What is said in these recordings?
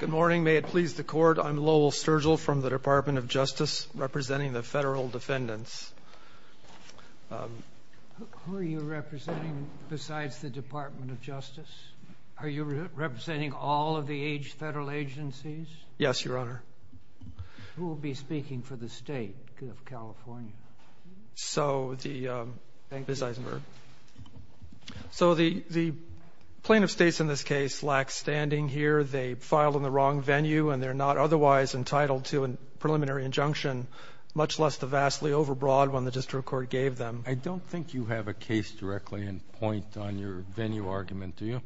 Good morning. May it please the Court, I'm Lowell Sturgill from the Department of Justice representing the federal defendants. Who are you representing besides the Department of Justice? Are you representing all of the federal agencies? Yes, Your Honor. Who will be speaking for the State of California? So the plaintiff states in this case lack standing here. They filed in the wrong venue and they're not otherwise entitled to a preliminary injunction, much less the vastly overbroad one the district court gave them. I don't think you have a case directly in point on your venue argument, do you?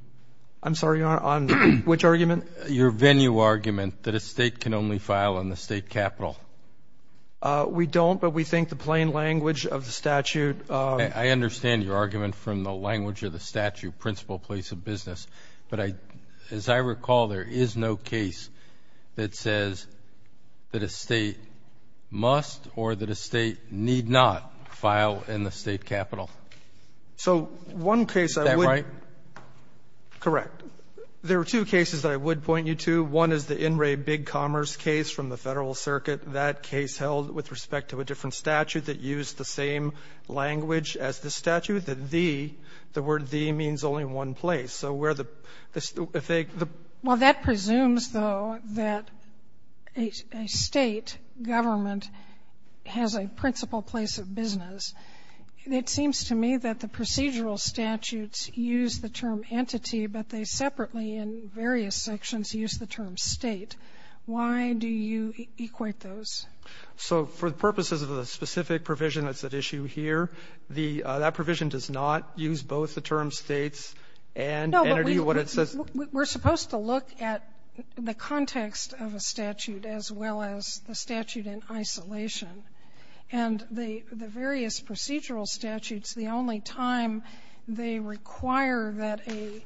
I'm sorry, Your Honor, on which argument? Your venue argument that a state can only file in the state capitol. We don't, but we think the plain language of the statute. I understand your argument from the language of the statute, principle place of business. But as I recall, there is no case that says that a state must or that a state need not file in the state capitol. So one case I would point you to, one is the In re Big Commerce case from the Federal Circuit. That case held with respect to a different statute that used the same language as this statute. The the, the word the means only one place. So where the, if they, the Well, that presumes, though, that a state government has a principle place of business. It seems to me that the procedural statutes use the term entity, but they separately in various sections use the term state. Why do you equate those? So for the purposes of the specific provision that's at issue here, the, that provision does not use both the term states and entity. No, but we, we're supposed to look at the context of a statute as well as the statute in isolation. And the, the various procedural statutes, the only time they require that a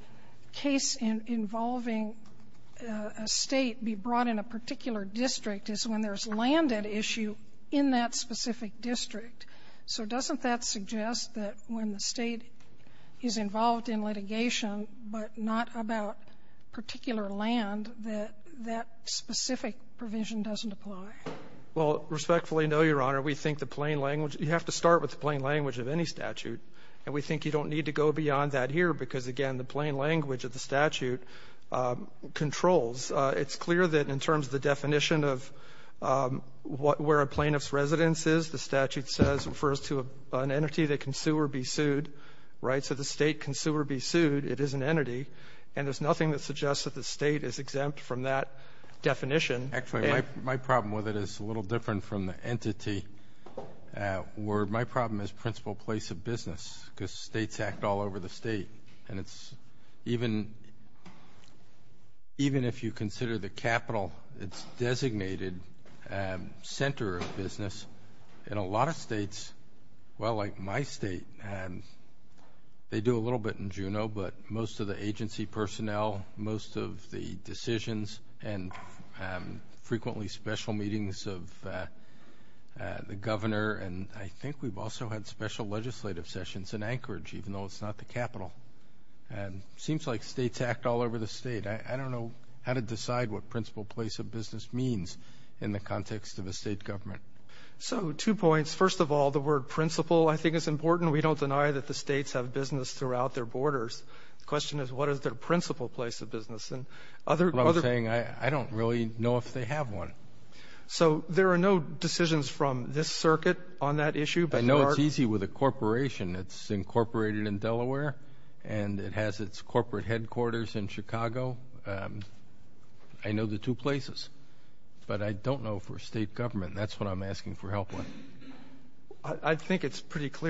case involving a state be brought in a particular district is when there's land at issue in that specific district. So doesn't that suggest that when the state is involved in litigation, but not about particular land, that, that specific provision doesn't apply? Well, respectfully, no, Your Honor. We think the plain language, you have to start with the plain language of any statute. And we think you don't need to go beyond that here, because, again, the plain language of the statute controls. It's clear that in terms of the definition of what, where a plaintiff's residence is, the statute says, refers to an entity that can sue or be sued, right? So the State can sue or be sued. It is an entity. And there's nothing that suggests that the State is exempt from that definition. Actually, my, my problem with it is a little different from the entity. Where my problem is principal place of business, because states act all over the state. And it's even, even if you consider the capital, it's designated center of business. In a lot of states, well, like my state, they do a little bit in Juneau, but most of the agency personnel, most of the decisions and frequently special meetings of the governor. And I think we've also had special legislative sessions in Anchorage, even though it's not the capital. And it seems like states act all over the state. I don't know how to decide what principal place of business means in the context of a state government. So two points. First of all, the word principal, I think, is important. We don't deny that the states have business throughout their borders. The question is, what is their principal place of business? And other, I don't really know if they have one. So there are no decisions from this circuit on that issue. I know it's easy with a corporation. It's incorporated in Delaware and it has its corporate headquarters in Chicago. I know the two places, but I don't know for state government. That's what I'm asking for help with. I think it's pretty state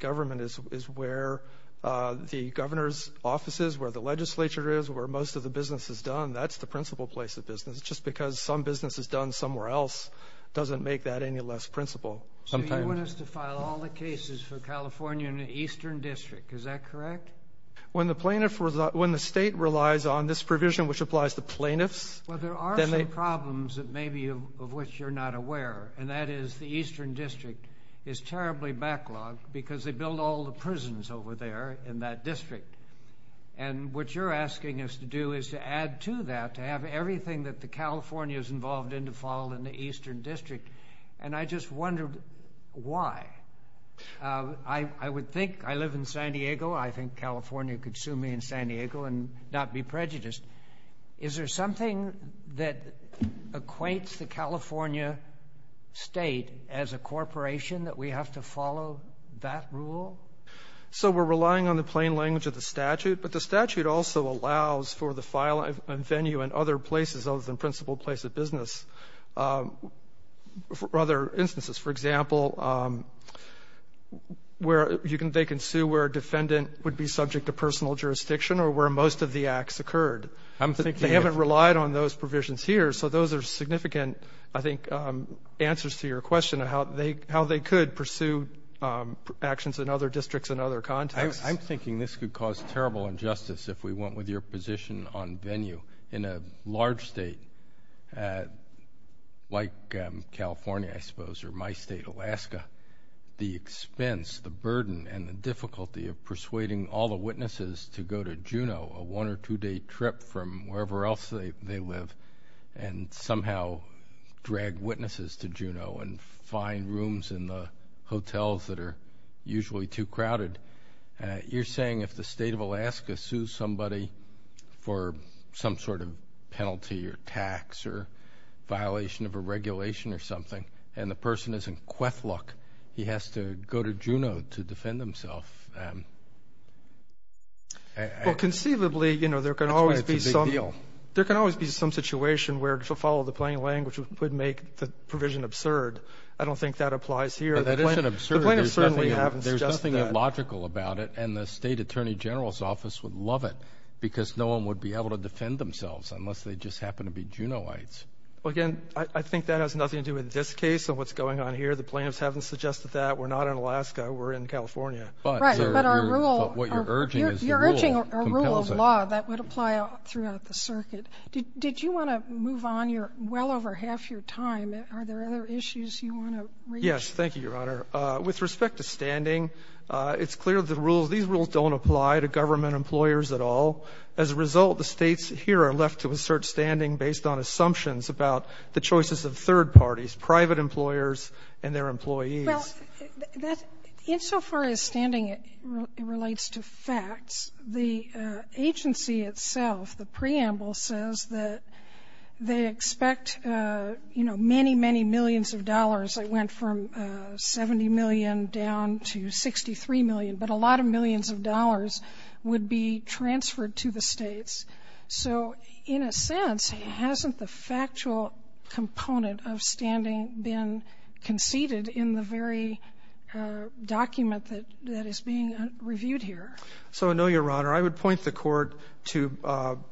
government is where the governor's offices, where the legislature is, where most of the business is done. That's the principal place of business. Just because some business is done somewhere else doesn't make that any less principal. So you want us to file all the cases for California in the Eastern District. Is that correct? When the plaintiff was, when the state relies on this provision, which applies to plaintiffs. Well, there are some problems that maybe of which you're not aware, and that is the Eastern District backlog because they build all the prisons over there in that district. And what you're asking us to do is to add to that, to have everything that the California is involved in to fall in the Eastern District. And I just wonder why. I would think, I live in San Diego, I think California could sue me in San Diego and not be prejudiced. Is there something that equates the California state as a corporation that we have to fall of that rule? So we're relying on the plain language of the statute, but the statute also allows for the file and venue in other places other than principal place of business. For other instances, for example, where you can, they can sue where a defendant would be subject to personal jurisdiction or where most of the acts occurred. I'm thinking. They haven't relied on those provisions here. So those are significant, I think, answers to your question of how they could pursue actions in other districts and other contexts. I'm thinking this could cause terrible injustice if we went with your position on venue. In a large state like California, I suppose, or my state, Alaska, the expense, the burden and the difficulty of persuading all the witnesses to go to Juneau, a one or two day trip from Juneau, and find rooms in the hotels that are usually too crowded. You're saying if the state of Alaska sues somebody for some sort of penalty or tax or violation of a regulation or something, and the person is in Kwethluk, he has to go to Juneau to defend himself. Well, conceivably, there can always be some situation where to follow the plain language would make the provision absurd. I don't think that applies here. That isn't absurd. The plaintiffs certainly haven't suggested that. There's nothing illogical about it, and the state attorney general's office would love it because no one would be able to defend themselves unless they just happen to be Juneauites. Again, I think that has nothing to do with this case and what's going on here. The plaintiffs haven't suggested that. We're not in Alaska. We're in California. But, sir, what you're urging is the rule compels it. You're urging a rule of law that would apply throughout the circuit. Did you want to move on? You're well over half your time. Are there other issues you want to raise? Yes. Thank you, Your Honor. With respect to standing, it's clear the rules, these rules don't apply to government employers at all. As a result, the States here are left to assert standing based on assumptions about the choices of third parties, private employers and their employees. Well, that's so far as standing relates to facts, the agency itself, the preamble says that they expect, you know, many, many millions of dollars that went from 70 million down to 63 million, but a lot of millions of dollars would be transferred to the States. So in a sense, hasn't the factual component of standing been conceded in the very document that is being reviewed here? So, no, Your Honor. I would point the Court to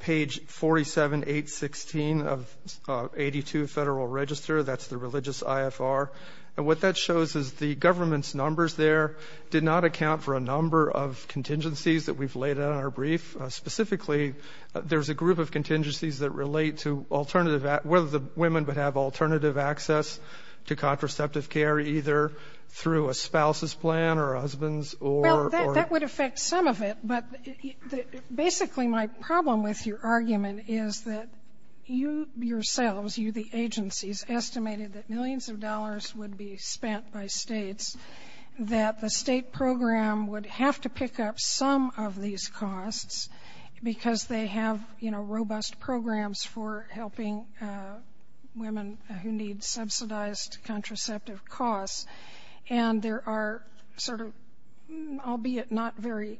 page 47816 of 82 Federal Register. That's the Religious IFR. And what that shows is the government's numbers there did not account for a number of contingencies that we've laid out in our brief. Specifically, there's a group of contingencies that relate to alternative — whether the women would have alternative access to contraceptive care either through a spouse's plan or a husband's or — Well, that would affect some of it, but basically my problem with your argument is that you yourselves, you, the agencies, estimated that millions of dollars would be spent by States, that the State program would have to pick up some of these costs because they have, you know, robust programs for helping women who need subsidized contraceptive costs. And there are sort of, albeit not very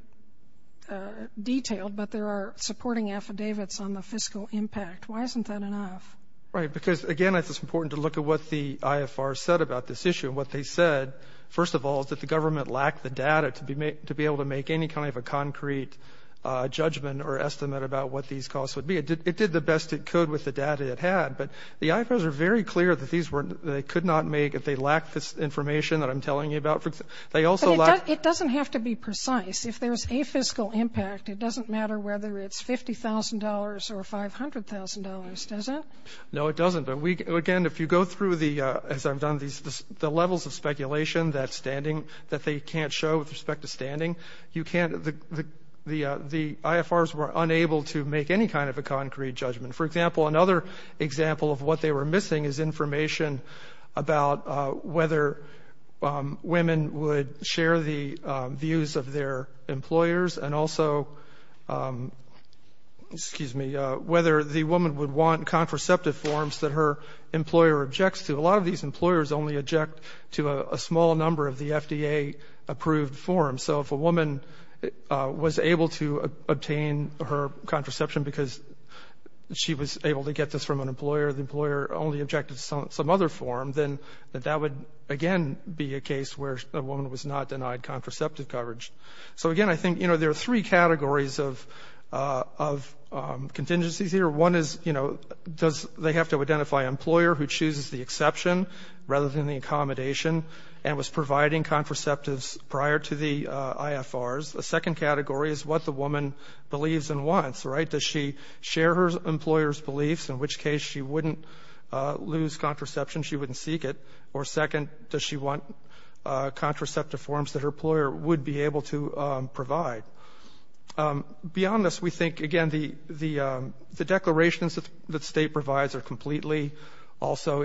detailed, but there are supporting affidavits on the fiscal impact. Why isn't that enough? Right, because, again, it's important to look at what the IFR said about this issue. What they said, first of all, is that the government lacked the data to be able to make any kind of a concrete judgment or estimate about what these costs would be. It did the best it could with the data it had, but the IFRs are very clear that these information that I'm telling you about, they also lack — But it doesn't have to be precise. If there's a fiscal impact, it doesn't matter whether it's $50,000 or $500,000, does it? No, it doesn't. But, again, if you go through the, as I've done, the levels of speculation that's standing that they can't show with respect to standing, you can't — the IFRs were unable to make any kind of a concrete judgment. For example, another example of what they were missing is information about whether women would share the views of their employers and also, excuse me, whether the woman would want contraceptive forms that her employer objects to. A lot of these employers only object to a small number of the FDA-approved forms. So if a woman was able to obtain her contraception because she was able to get this from an employer, the employer only objected to some other form, then that would, again, be a case where a woman was not denied contraceptive coverage. So again, I think, you know, there are three categories of contingencies here. One is, you know, does — they have to identify an employer who chooses the exception rather than the accommodation and was providing contraceptives prior to the IFRs. The second category is what the woman believes and wants, right? Does she share her employer's beliefs, in which case she wouldn't lose contraception, she wouldn't seek it? Or second, does she want contraceptive forms that her employer would be able to provide? Beyond this, we think, again, the declarations that the State provides are completely also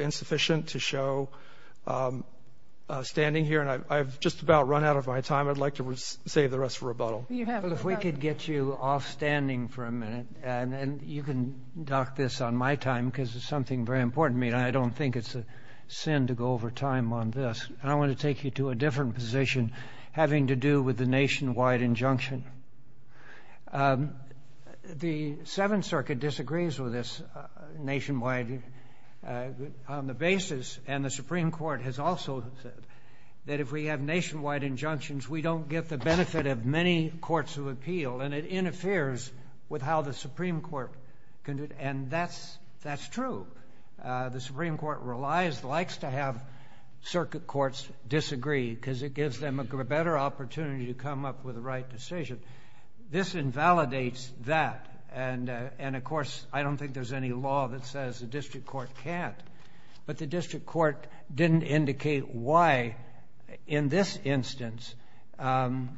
standing here, and I've just about run out of my time. I'd like to save the rest for rebuttal. Well, if we could get you offstanding for a minute, and you can dock this on my time because it's something very important to me, and I don't think it's a sin to go over time on this. And I want to take you to a different position having to do with the nationwide injunction. The Seventh Circuit disagrees with this nationwide on the basis — and the Supreme Court has also said that if we have nationwide injunctions, we don't get the benefit of many courts of appeal, and it interferes with how the Supreme Court can do — and that's true. The Supreme Court relies — likes to have circuit courts disagree because it gives them a better opportunity to come up with the right decision. This invalidates that, and, of course, I don't think there's any law that says the district court can't. But the district court didn't indicate why, in this instance,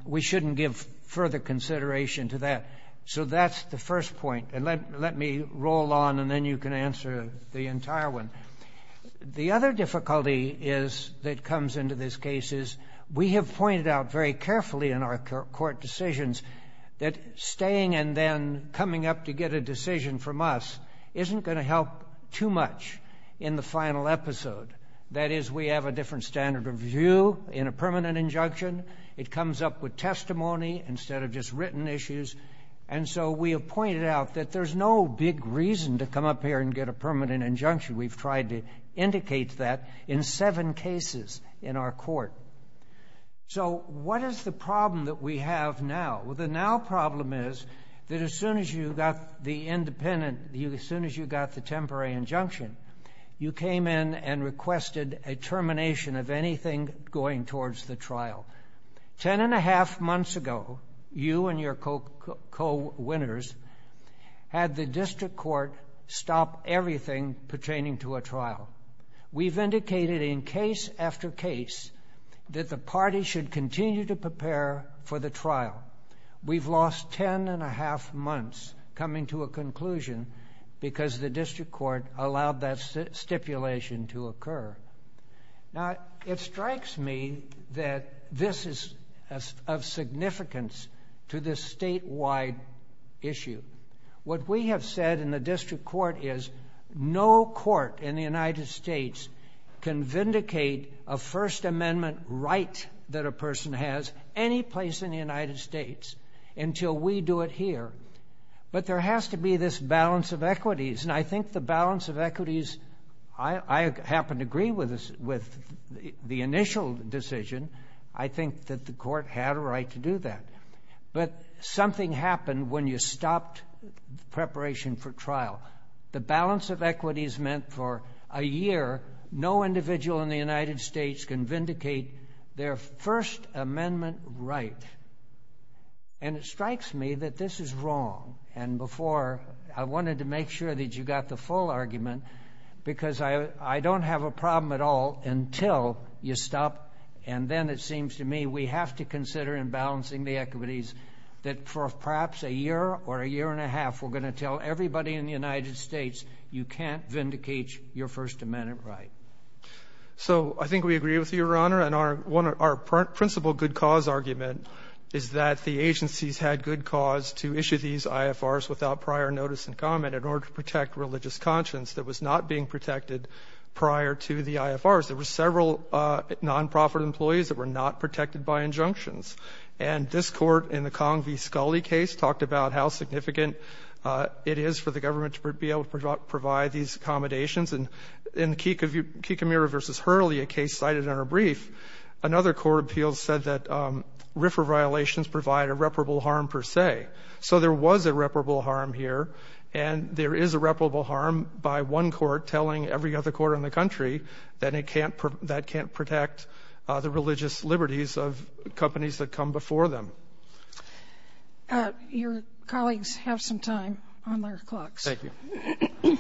we shouldn't give further consideration to that. So that's the first point, and let me roll on, and then you can answer the entire one. The other difficulty is — that comes into this case is we have pointed out very carefully in our court decisions that staying and then coming up to get a decision from us isn't going to help too much in the final episode. That is, we have a different standard of view in a permanent injunction. It comes up with testimony instead of just written issues. And so we have pointed out that there's no big reason to come up here and get a permanent injunction. We've tried to indicate that in seven cases in our court. So what is the problem that we have now? Well, the now problem is that as soon as you got the independent — as soon as you got the temporary injunction, you came in and requested a termination of anything going towards the trial. Ten and a half months ago, you and your co-winners had the district court stop everything pertaining to a trial. We've indicated in case after case that the party should continue to prepare for the trial. We've lost ten and a half months coming to a conclusion because the district court allowed that stipulation to occur. Now, it strikes me that this is of significance to this statewide issue. What we have said in the district court is no court in the United States can vindicate a First Amendment right that a person has any place in the United States until we do it here. But there has to be this balance of equities. And I think the balance of equities — I happen to agree with the initial decision. I think that the court had a right to do that. But something happened when you stopped preparation for trial. The balance of equities meant for a year no individual in the United States can vindicate their First Amendment right. And it strikes me that this is wrong. And before, I wanted to make sure that you got the full argument because I don't have a problem at all until you stop. And then it seems to me we have to consider in balancing the equities that for perhaps a year or a year and a half we're going to tell everybody in the United States you can't vindicate your First Amendment right. So I think we agree with you, Your Honor. And our principal good cause argument is that the agencies had good cause to issue these IFRs without prior notice and comment in order to protect religious conscience that was not being protected prior to the IFRs. There were several nonprofit employees that were not protected by injunctions. And this Court in the Kong v. Scully case talked about how significant it is for the government to be able to provide these accommodations. And in the Kikomura v. Hurley, a case cited in our brief, another court appeal said that RFRA violations provide irreparable harm per se. So there was irreparable harm here. And there is irreparable harm by one court telling every other court in the country that it can't, that can't protect the religious liberties of companies that come before them. Thank you.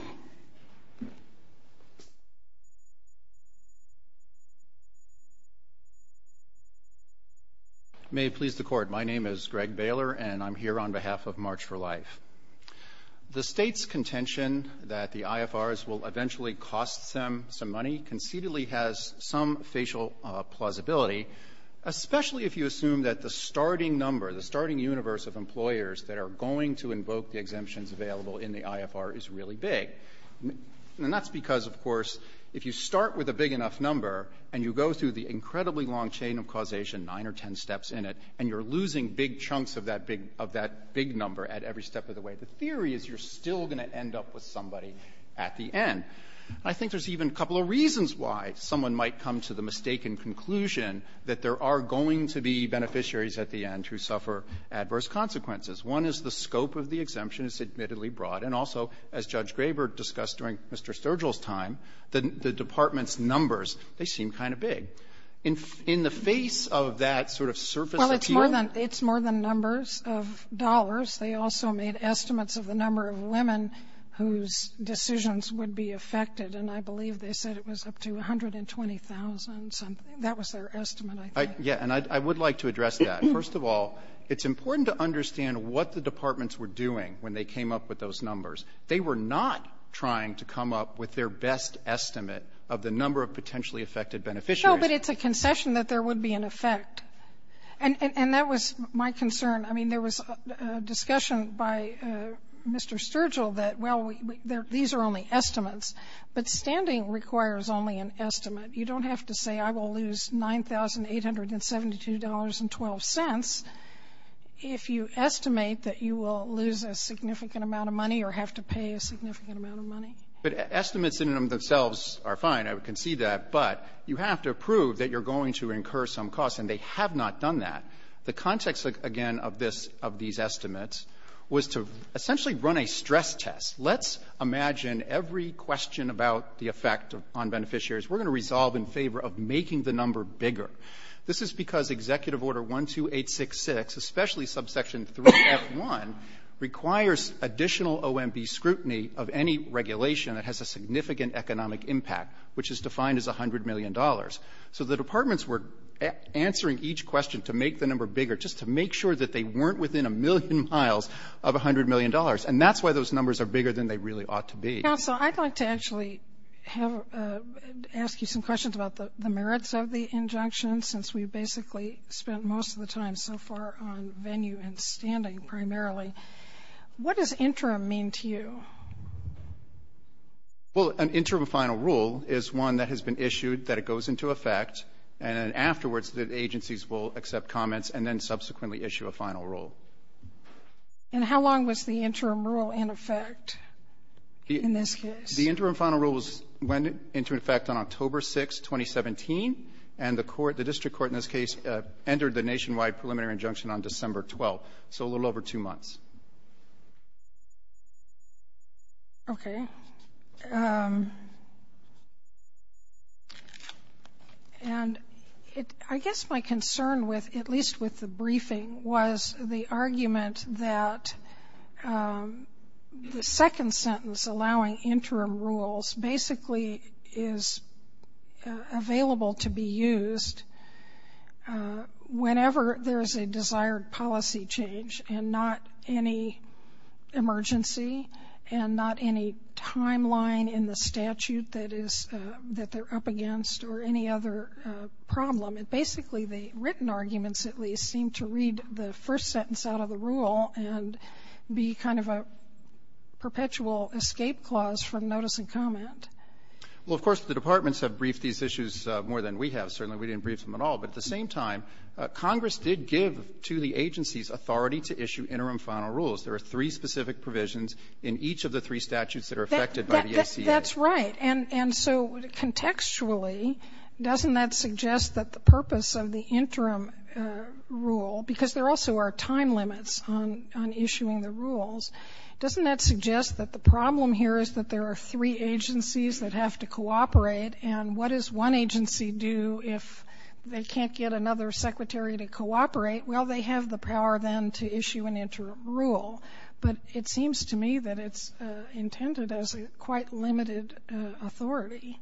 May it please the Court. My name is Greg Baylor, and I'm here on behalf of March for Life. The State's contention that the IFRs will eventually cost them some money conceitedly has some facial plausibility, especially if you assume that the starting number, the starting universe of employers that are going to invoke the exemptions available in the IFR is really big. And that's because, of course, if you start with a big enough number and you go through the incredibly long chain of causation, nine or ten steps in it, and you're losing big chunks of that big number at every step of the way, the theory is you're still going to end up with somebody at the end. I think there's even a couple of reasons why someone might come to the mistaken conclusion that there are going to be beneficiaries at the end who suffer adverse consequences. One is the scope of the exemption is admittedly broad. And also, as Judge Graber discussed during Mr. Sturgill's time, the Department's numbers, they seem kind of big. In the face of that sort of surface appeal Well, it's more than numbers of dollars. They also made estimates of the number of women whose decisions would be affected. And I believe they said it was up to 120,000 something. That was their estimate, I think. Yeah. And I would like to address that. First of all, it's important to understand what the departments were doing when they came up with those numbers. They were not trying to come up with their best estimate of the number of potentially affected beneficiaries. No, but it's a concession that there would be an effect. And that was my concern. I mean, there was a discussion by Mr. Sturgill that, well, these are only estimates, but standing requires only an estimate. You don't have to say I will lose $9,872.12 if you estimate that you will lose a significant amount of money or have to pay a significant amount of money. But estimates in and of themselves are fine. I can see that. But you have to prove that you're going to incur some costs, and they have not done that. The context, again, of this of these estimates was to essentially run a stress test. Let's imagine every question about the effect on beneficiaries. We're going to resolve in favor of making the number bigger. This is because Executive Order 12866, especially subsection 3F1, requires additional OMB scrutiny of any regulation that has a significant economic impact, which is defined as $100 million. So the departments were answering each question to make the number bigger, just to make sure that they weren't within a million miles of $100 million. And that's why those numbers are bigger than they really ought to be. Counsel, I'd like to actually ask you some questions about the merits of the injunction, since we've basically spent most of the time so far on venue and standing, primarily. What does interim mean to you? Well, an interim final rule is one that has been issued, that it goes into effect, and afterwards the agencies will accept comments and then subsequently issue a final rule. And how long was the interim rule in effect in this case? The interim final rule went into effect on October 6, 2017, and the court, the district court in this case, entered the nationwide preliminary injunction on December 12, so a little over two months. Okay. And I guess my concern, at least with the briefing, was the argument that the second rule basically is available to be used whenever there's a desired policy change and not any emergency and not any timeline in the statute that they're up against or any other problem. And basically the written arguments, at least, seem to read the first sentence out of the Well, of course, the departments have briefed these issues more than we have. Certainly we didn't brief them at all. But at the same time, Congress did give to the agencies authority to issue interim final rules. There are three specific provisions in each of the three statutes that are affected by the ACA. That's right. And so contextually, doesn't that suggest that the purpose of the interim rule, because here is that there are three agencies that have to cooperate, and what does one agency do if they can't get another secretary to cooperate? Well, they have the power then to issue an interim rule. But it seems to me that it's intended as a quite limited authority.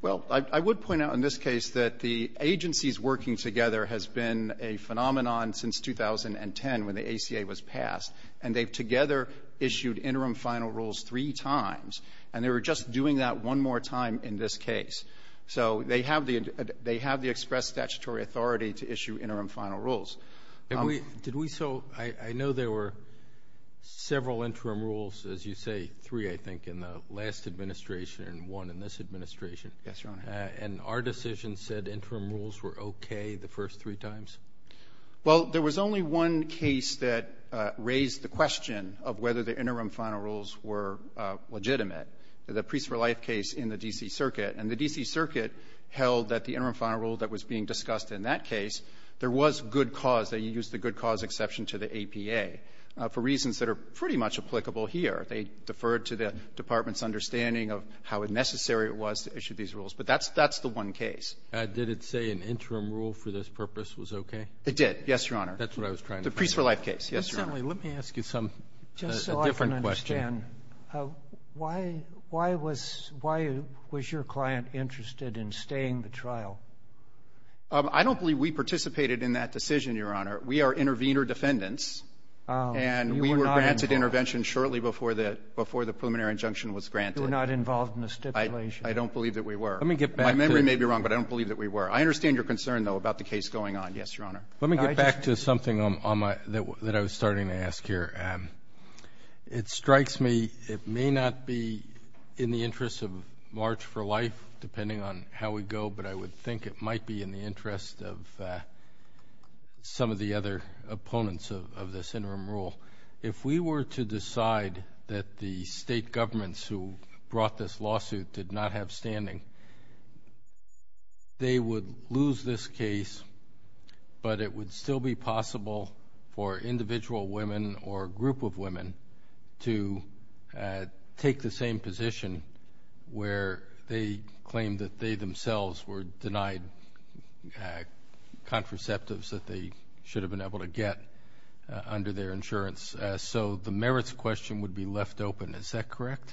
Well, I would point out in this case that the agencies working together has been a phenomenon since 2010 when the ACA was passed. And they've together issued interim final rules three times. And they were just doing that one more time in this case. So they have the express statutory authority to issue interim final rules. Did we so, I know there were several interim rules, as you say, three, I think, in the last administration and one in this administration. Yes, Your Honor. And our decision said interim rules were okay the first three times? Well, there was only one case that raised the question of whether the interim final rules were legitimate, the Priests for Life case in the D.C. Circuit. And the D.C. Circuit held that the interim final rule that was being discussed in that case, there was good cause, they used the good cause exception to the APA for reasons that are pretty much applicable here. They deferred to the Department's understanding of how necessary it was to issue these rules. But that's the one case. Did it say an interim rule for this purpose was okay? It did. Yes, Your Honor. That's what I was trying to find out. The Priests for Life case. Yes, Your Honor. Assemblyman, let me ask you a different question. Just so I can understand, why was your client interested in staying the trial? I don't believe we participated in that decision, Your Honor. We are intervener defendants. And we were granted intervention shortly before the preliminary injunction was granted. I don't believe that we were. Let me get back to the... My memory may be wrong, but I don't believe that we were. I understand your concern, though, about the case going on. Yes, Your Honor. Let me get back to something that I was starting to ask here. It strikes me, it may not be in the interest of March for Life, depending on how we go, but I would think it might be in the interest of some of the other opponents of this interim rule. If we were to decide that the state governments who brought this lawsuit did not have standing, they would lose this case, but it would still be possible for individual women or a group of women to take the same position where they claimed that they themselves were denied contraceptives that they should have been able to get under their insurance. So the merits question would be left open. Is that correct?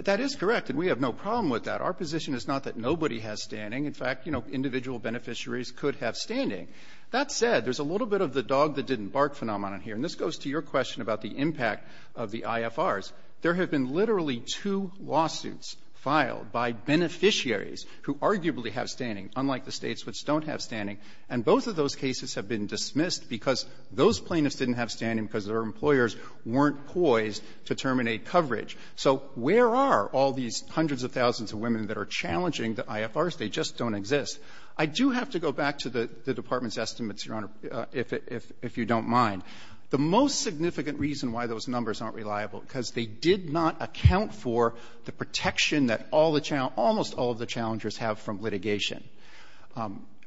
That is correct, and we have no problem with that. Our position is not that nobody has standing. In fact, you know, individual beneficiaries could have standing. That said, there's a little bit of the dog that didn't bark phenomenon here, and this goes to your question about the impact of the IFRs. There have been literally two lawsuits filed by beneficiaries who arguably have standing, unlike the states which don't have standing. And both of those cases have been dismissed because those plaintiffs didn't have standing because their employers weren't poised to terminate coverage. So where are all these hundreds of thousands of women that are challenging the IFRs? They just don't exist. I do have to go back to the Department's estimates, Your Honor, if you don't mind. The most significant reason why those numbers aren't reliable, because they did not account for the protection that all the challenge – almost all of the challengers have from litigation.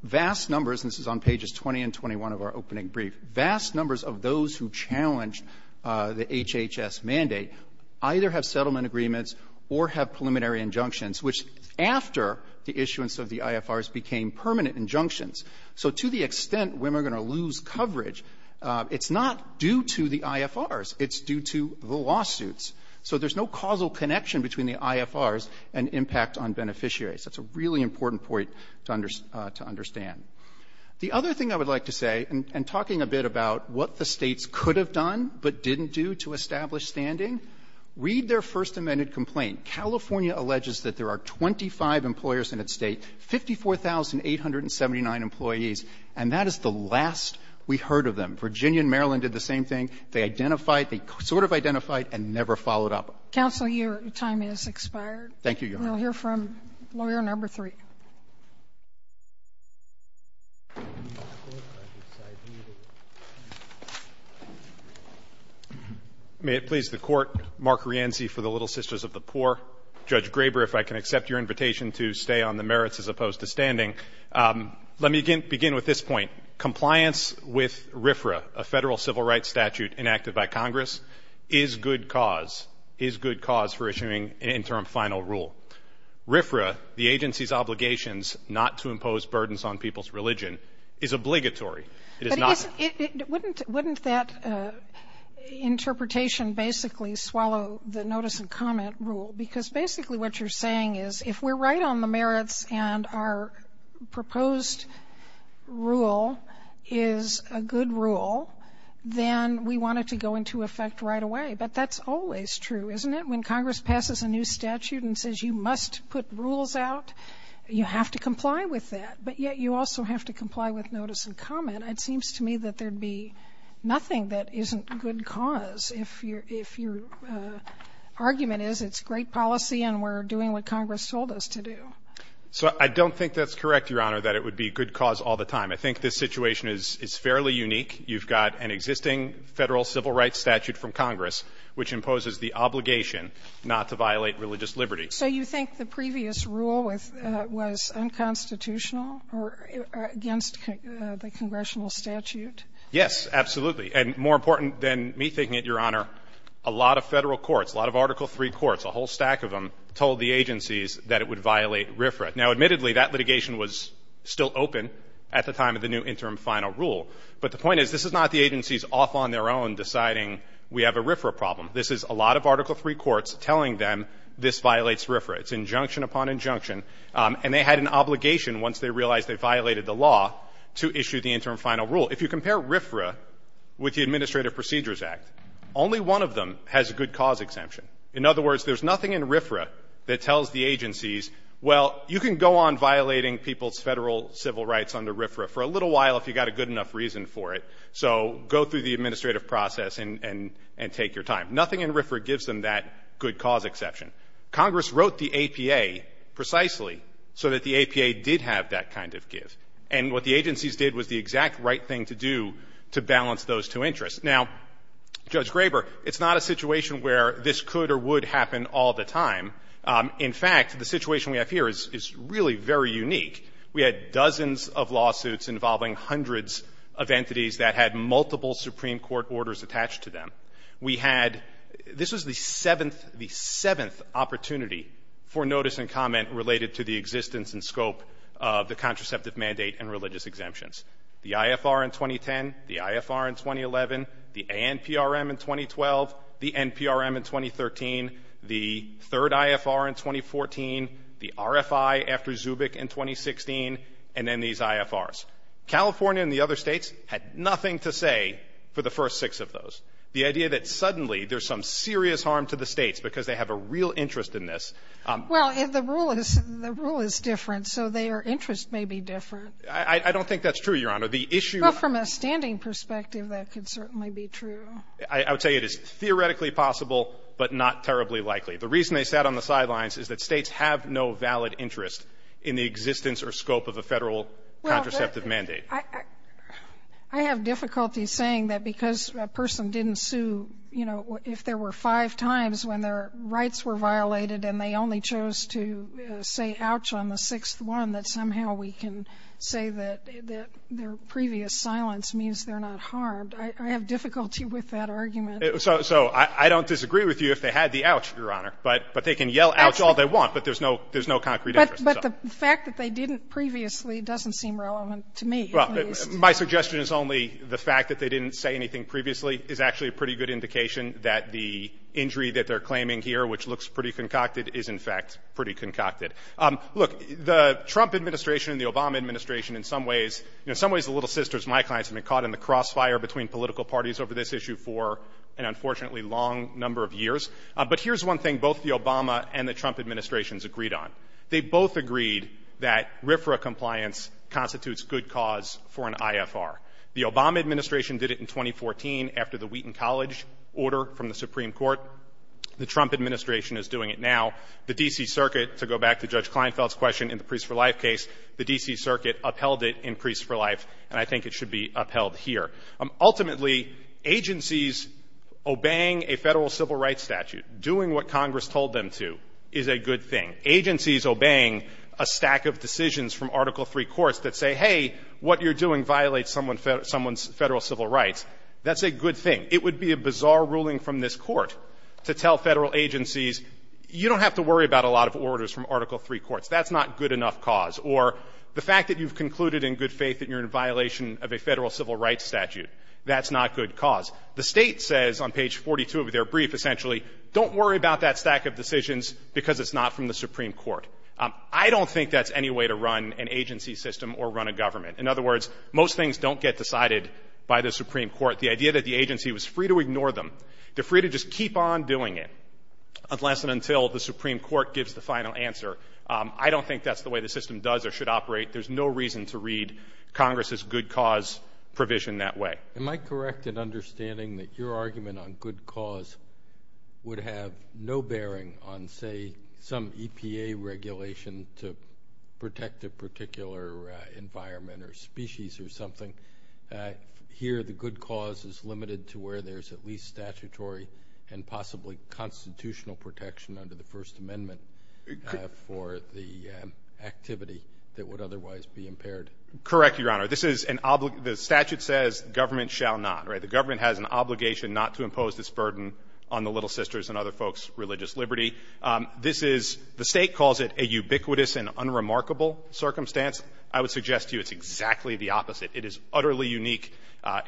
Vast numbers – and this is on pages 20 and 21 of our opening brief – vast numbers of those who challenged the HHS mandate either have settlement agreements or have preliminary injunctions, which after the issuance of the IFRs became permanent injunctions. So to the extent women are going to lose coverage, it's not due to the IFRs. It's due to the lawsuits. So there's no causal connection between the IFRs and impact on beneficiaries. That's a really important point to understand. The other thing I would like to say, and talking a bit about what the States could have done but didn't do to establish standing, read their First Amendment complaint. California alleges that there are 25 employers in its State, 54,879 employees, and that is the last we heard of them. Virginia and Maryland did the same thing. They identified – they sort of identified and never followed up. Counsel, your time has expired. Thank you, Your Honor. We'll hear from Lawyer No. 3. May it please the Court, Mark Rianzi for the Little Sisters of the Poor. Judge Graber, if I can accept your invitation to stay on the merits as opposed to standing. Let me begin with this point. Compliance with RFRA, a federal civil rights statute enacted by Congress, is good cause for issuing an interim final rule. RFRA, the agency's obligations not to impose burdens on people's religion, is obligatory. It is not – But wouldn't that interpretation basically swallow the notice and comment rule? Because basically what you're saying is if we're right on the merits and our proposed rule is a good rule, then we want it to go into effect right away. But that's always true, isn't it? When Congress passes a new statute and says you must put rules out, you have to comply with that. But yet you also have to comply with notice and comment. It seems to me that there'd be nothing that isn't good cause if your – if your argument is it's great policy and we're doing what Congress told us to do. So I don't think that's correct, Your Honor, that it would be good cause all the time. I think this situation is fairly unique. You've got an existing Federal civil rights statute from Congress which imposes the obligation not to violate religious liberty. So you think the previous rule was unconstitutional or against the congressional statute? Yes, absolutely. And more important than me thinking it, Your Honor, a lot of Federal courts, a lot of Article III courts, a whole stack of them, told the agencies that it would violate RFRA. Now, admittedly, that litigation was still open at the time of the new interim final rule. But the point is this is not the agencies off on their own deciding we have a RFRA problem. This is a lot of Article III courts telling them this violates RFRA. It's injunction upon injunction. And they had an obligation once they realized they violated the law to issue the interim final rule. If you compare RFRA with the Administrative Procedures Act, only one of them has a good cause exemption. In other words, there's nothing in RFRA that tells the agencies, well, you can go on violating people's Federal civil rights under RFRA for a little while if you've got a good enough reason for it. So go through the administrative process and take your time. Nothing in RFRA gives them that good cause exception. Congress wrote the APA precisely so that the APA did have that kind of give. And what the agencies did was the exact right thing to do to balance those two interests. Now, Judge Graber, it's not a situation where this could or would happen all the time. In fact, the situation we have here is really very unique. We had dozens of lawsuits involving hundreds of entities that had multiple Supreme Court orders attached to them. We had — this was the seventh — the seventh opportunity for notice and comment related to the existence and scope of the contraceptive mandate and religious exemptions. The IFR in 2010, the IFR in 2011, the ANPRM in 2012, the NPRM in 2013, the third IFR in 2014, the RFI after Zubik in 2016, and then these IFRs. California and the other states had nothing to say for the first six of those. The idea that suddenly there's some serious harm to the states because they have a real interest in this — Well, the rule is — the rule is different, so their interest may be different. I don't think that's true, Your Honor. The issue — Well, from a standing perspective, that could certainly be true. I would say it is theoretically possible, but not terribly likely. The reason they sat on the sidelines is that states have no valid interest in the existence or scope of a Federal contraceptive mandate. Well, I — I have difficulty saying that because a person didn't sue, you know, if there were five times when their rights were violated and they only chose to say ouch on the sixth one, that somehow we can say that their previous silence means I have difficulty with that argument. So — so I don't disagree with you if they had the ouch, Your Honor, but — but they can yell ouch all they want, but there's no — there's no concrete interest. But — but the fact that they didn't previously doesn't seem relevant to me, at least. Well, my suggestion is only the fact that they didn't say anything previously is actually a pretty good indication that the injury that they're claiming here, which looks pretty concocted, is in fact pretty concocted. Look, the Trump administration and the Obama administration, in some ways — in some ways, the little sisters, my clients, have been caught in the crossfire between political parties over this issue for an unfortunately long number of years. But here's one thing both the Obama and the Trump administrations agreed on. They both agreed that RFRA compliance constitutes good cause for an IFR. The Obama administration did it in 2014 after the Wheaton College order from the Supreme Court. The Trump administration is doing it now. The D.C. Circuit, to go back to Judge Kleinfeld's question in the Priest for Life case, the D.C. Circuit upheld it in Priest for Life, and I think it should be upheld here. Ultimately, agencies obeying a federal civil rights statute, doing what Congress told them to, is a good thing. Agencies obeying a stack of decisions from Article III courts that say, hey, what you're doing violates someone's federal civil rights, that's a good thing. It would be a bizarre ruling from this court to tell federal agencies, you don't have to worry about a lot of orders from Article III courts. That's not good enough cause. Or the fact that you've concluded in good faith that you're in violation of a federal civil rights statute, that's not good cause. The state says on page 42 of their brief, essentially, don't worry about that stack of decisions because it's not from the Supreme Court. I don't think that's any way to run an agency system or run a government. In other words, most things don't get decided by the Supreme Court. The idea that the agency was free to ignore them, they're free to just keep on doing it, unless and until the Supreme Court gives the final answer, I don't think that's the way the system does or should operate. There's no reason to read Congress's good cause provision that way. Am I correct in understanding that your argument on good cause would have no bearing on, say, some EPA regulation to protect a particular environment or species or something? Here the good cause is limited to where there's at least statutory and possibly constitutional protection under the First Amendment for the activity that would otherwise be impaired. Correct, Your Honor. This is an obligation. The statute says government shall not, right? The government has an obligation not to impose this burden on the Little Sisters and other folks' religious liberty. This is, the state calls it a ubiquitous and unremarkable circumstance. I would suggest to you it's exactly the opposite. It is utterly unique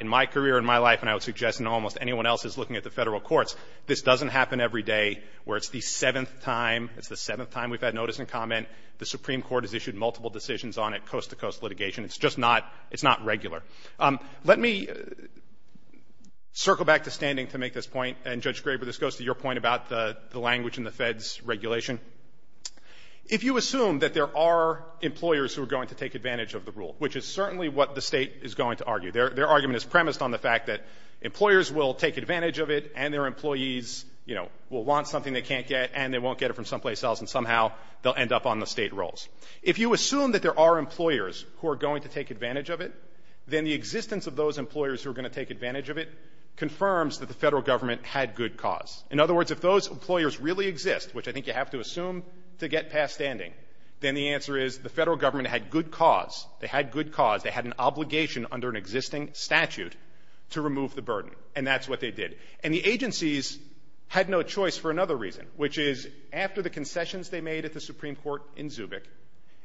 in my career, in my life, and I would suggest in almost anyone else's looking at the federal courts. This doesn't happen every day where it's the seventh time, it's the seventh time we've had notice and comment, the Supreme Court has issued multiple decisions on it, coast-to-coast litigation. It's just not, it's not regular. Let me circle back to standing to make this point, and, Judge Graber, this goes to your point about the language in the Fed's regulation. If you assume that there are employers who are going to take advantage of the rule, which is certainly what the State is going to argue, their argument is premised on the fact that employers will take advantage of it, and their employees, you know, will want something they can't get, and they won't get it from someplace else, and somehow they'll end up on the State rolls. If you assume that there are employers who are going to take advantage of it, then the existence of those employers who are going to take advantage of it confirms that the federal government had good cause. In other words, if those employers really exist, which I think you have to assume to get past standing, then the answer is the federal government had good cause, they had an obligation under an existing statute to remove the burden, and that's what they did. And the agencies had no choice for another reason, which is, after the concessions they made at the Supreme Court in Zubik,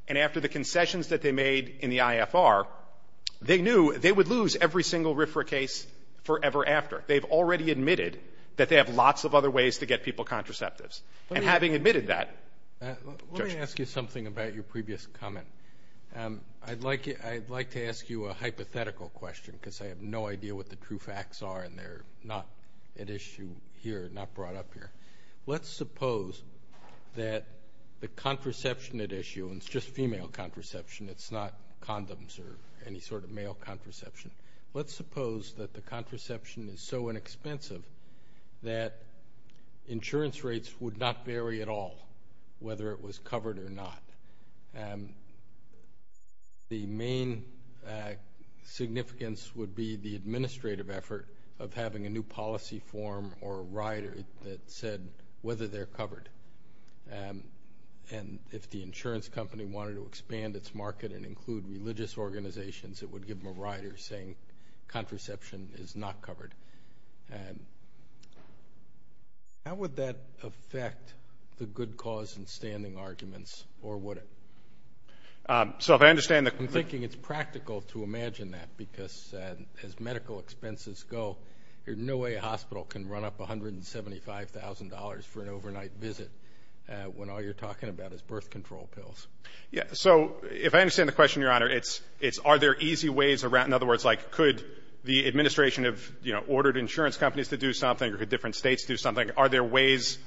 and after the concessions that they made in the IFR, they knew they would lose every single RFRA case forever after. They've already admitted that they have lots of other ways to get people contraceptives. And having admitted that, Judge. Let me ask you something about your previous comment. I'd like to ask you a hypothetical question, because I have no idea what the true facts are, and they're not at issue here, not brought up here. Let's suppose that the contraception at issue, and it's just female contraception, it's not condoms or any sort of male contraception. Let's suppose that the contraception is so inexpensive that insurance rates would not vary at all, whether it was covered or not. The main significance would be the administrative effort of having a new policy form or a rider that said whether they're covered, and if the insurance company wanted to expand its market and include religious organizations, it would give them a rider saying contraception is not covered. How would that affect the good cause and standing arguments, or would it? I'm thinking it's practical to imagine that, because as medical expenses go, no way a hospital can run up $175,000 for an overnight visit when all you're talking about is birth control pills. So if I understand the question, Your Honor, it's are there easy ways around, in other words, if you ordered insurance companies to do something or different states do something, are there ways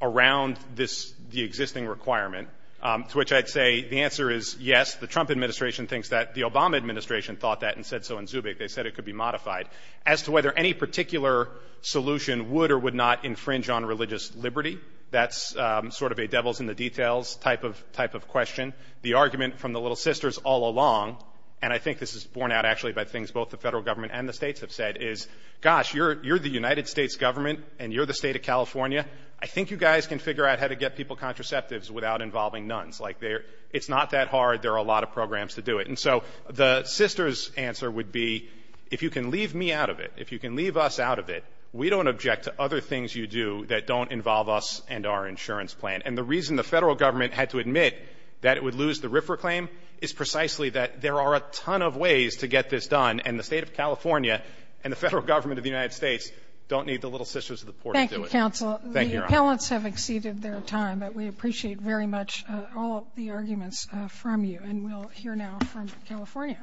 around the existing requirement, to which I'd say the answer is yes. The Trump administration thinks that. The Obama administration thought that and said so in Zubik. They said it could be modified. As to whether any particular solution would or would not infringe on religious liberty, that's sort of a devil's-in-the-details type of question. The argument from the little sisters all along, and I think this is borne out actually by things both the federal government and the states have said, is, gosh, you're the United States government and you're the state of California. I think you guys can figure out how to get people contraceptives without involving nuns. It's not that hard. There are a lot of programs to do it. And so the sisters' answer would be, if you can leave me out of it, if you can leave us out of it, we don't object to other things you do that don't involve us and our insurance plan. And the reason the federal government had to admit that it would lose the RFRA claim is precisely that there are a ton of ways to get this done, and the State of California and the Federal Government of the United States don't need the little sisters of the poor to do it. Thank you, Your Honor. Thank you, Your Honor. The appellants have exceeded their time, but we appreciate very much all of the arguments from you. And we'll hear now from California.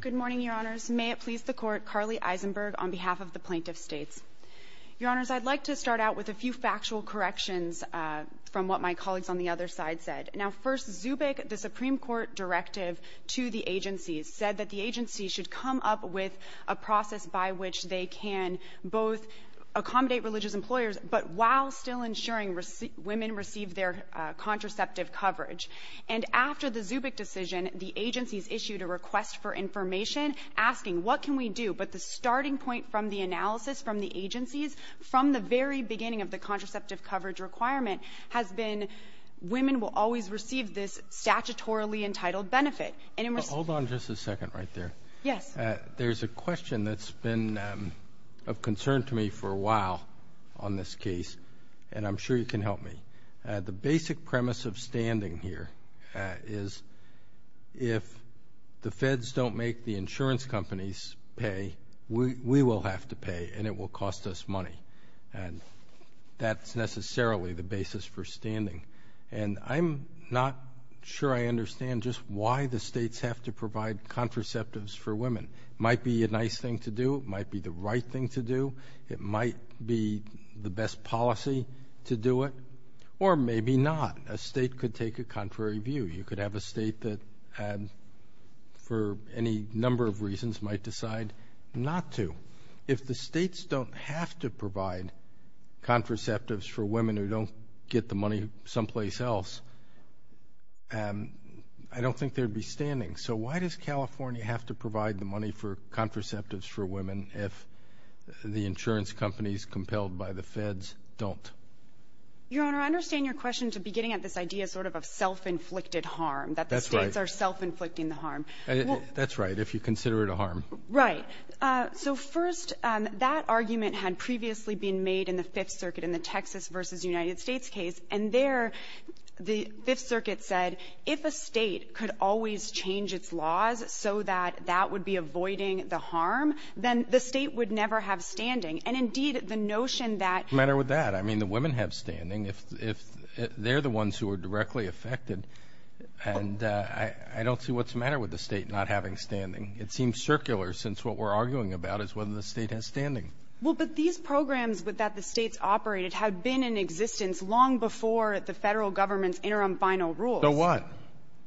Good morning, Your Honors. May it please the Court, Carly Eisenberg on behalf of the Plaintiff States. Your Honors, I'd like to start out with a few factual corrections from what my colleagues on the other side said. Now, first, Zubik, the Supreme Court directive to the agencies, said that the agencies should come up with a process by which they can both accommodate religious employers, but while still ensuring women receive their contraceptive coverage. And after the Zubik decision, the agencies issued a request for information asking what can we do, but the starting point from the analysis from the agencies, from the very beginning of the contraceptive coverage requirement, has been women will always receive this statutorily entitled benefit. Hold on just a second right there. Yes. There's a question that's been of concern to me for a while on this case, and I'm sure you can help me. The basic premise of standing here is if the feds don't make the insurance companies pay, we will have to pay, and it will cost us money. And that's necessarily the basis for standing. And I'm not sure I understand just why the states have to provide contraceptives for women. It might be a nice thing to do. It might be the right thing to do. It might be the best policy to do it. Or maybe not. A state could take a contrary view. You could have a state that, for any number of reasons, might decide not to. If the states don't have to provide contraceptives for women who don't get the money someplace else, I don't think there'd be standing. So why does California have to provide the money for contraceptives for women if the insurance companies compelled by the feds don't? Your Honor, I understand your question to be getting at this idea sort of of self-inflicted harm, that the states are self-inflicting the harm. That's right, if you consider it a harm. Right. So, first, that argument had previously been made in the Fifth Circuit in the Texas v. United States case. And there, the Fifth Circuit said, if a state could always change its laws so that that would be avoiding the harm, then the state would never have standing. And indeed, the notion that- What's the matter with that? I mean, the women have standing if they're the ones who are directly affected. And I don't see what's the matter with the state not having standing. It seems circular, since what we're arguing about is whether the state has standing. Well, but these programs that the states operated had been in existence long before the federal government's interim final rules. So what?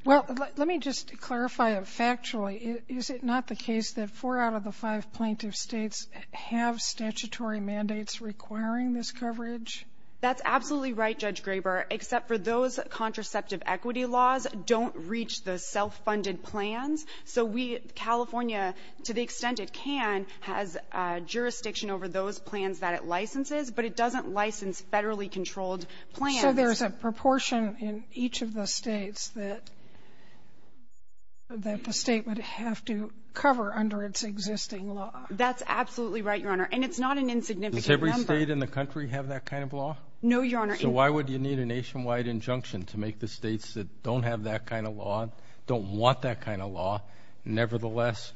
Well, let me just clarify it factually. Is it not the case that four out of the five plaintiff states have statutory mandates requiring this coverage? That's absolutely right, Judge Graber, except for those contraceptive equity laws don't reach the self-funded plans. So we, California, to the extent it can, has jurisdiction over those plans that it licenses, but it doesn't license federally controlled plans. So there's a proportion in each of the states that the state would have to cover under its existing law. That's absolutely right, Your Honor. And it's not an insignificant number. Does every state in the country have that kind of law? No, Your Honor. So why would you need a nationwide injunction to make the states that don't have that kind of law, don't want that kind of law, nevertheless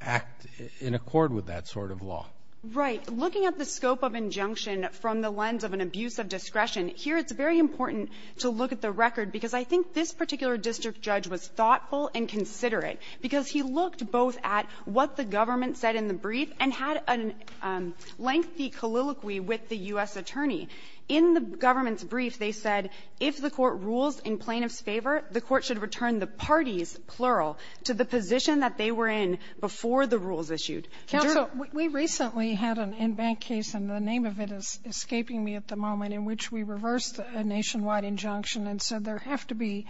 act in accord with that sort of law? Right. Looking at the scope of injunction from the lens of an abuse of discretion, here it's very important to look at the record because I think this particular district judge was thoughtful and considerate because he looked both at what the government said in the brief and had a lengthy colloquy with the U.S. attorney. In the government's brief, they said if the court rules in plaintiff's favor, the court should return the parties, plural, to the position that they were in before the rules issued. Counsel, we recently had an in-bank case, and the name of it is escaping me at the moment, in which we reversed a nationwide injunction and said there have to be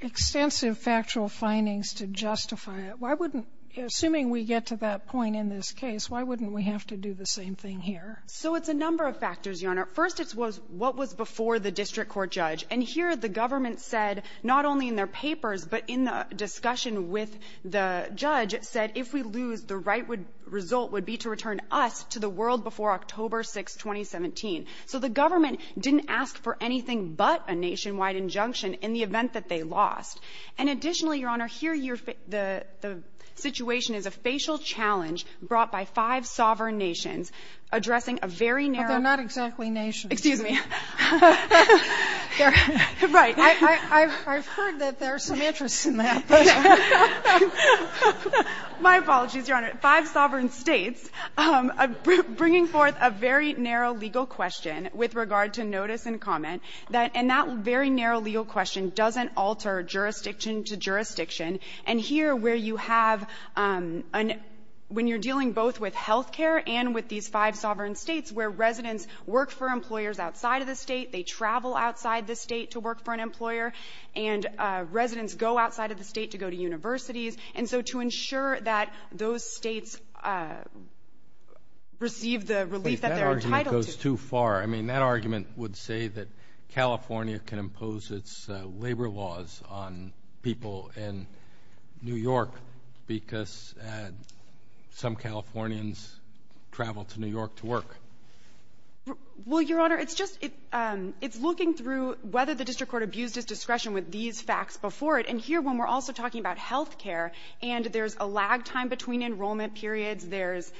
extensive factual findings to justify it. Why wouldn't we, assuming we get to that point in this case, why wouldn't we have to do the same thing here? So it's a number of factors, Your Honor. First, it was what was before the district court judge. And here, the government said, not only in their papers, but in the discussion with the judge, said if we lose, the right would result would be to return us to the world before October 6th, 2017. So the government didn't ask for anything but a nationwide injunction in the event that they lost. And additionally, Your Honor, here you're the situation is a facial challenge brought by five sovereign nations addressing a very narrow --- But they're not exactly nations. Excuse me. Right. I've heard that there's some interest in that. My apologies, Your Honor. Five sovereign states bringing forth a very narrow legal question with regard to notice and comment, and that very narrow legal question doesn't alter jurisdiction to jurisdiction. And here, where you have an -- when you're dealing both with health care and with these five sovereign states where residents work for employers outside of the state, they travel outside the state to work for an employer, and residents go outside of the state to go to universities. And so to ensure that those states receive the relief that they're entitled to -- That argument goes too far. I mean, that argument would say that California can impose its labor laws on people in New York. Some Californians travel to New York to work. Well, Your Honor, it's just -- it's looking through whether the district court abused its discretion with these facts before it. And here, when we're also talking about health care, and there's a lag time between enrollment periods, there's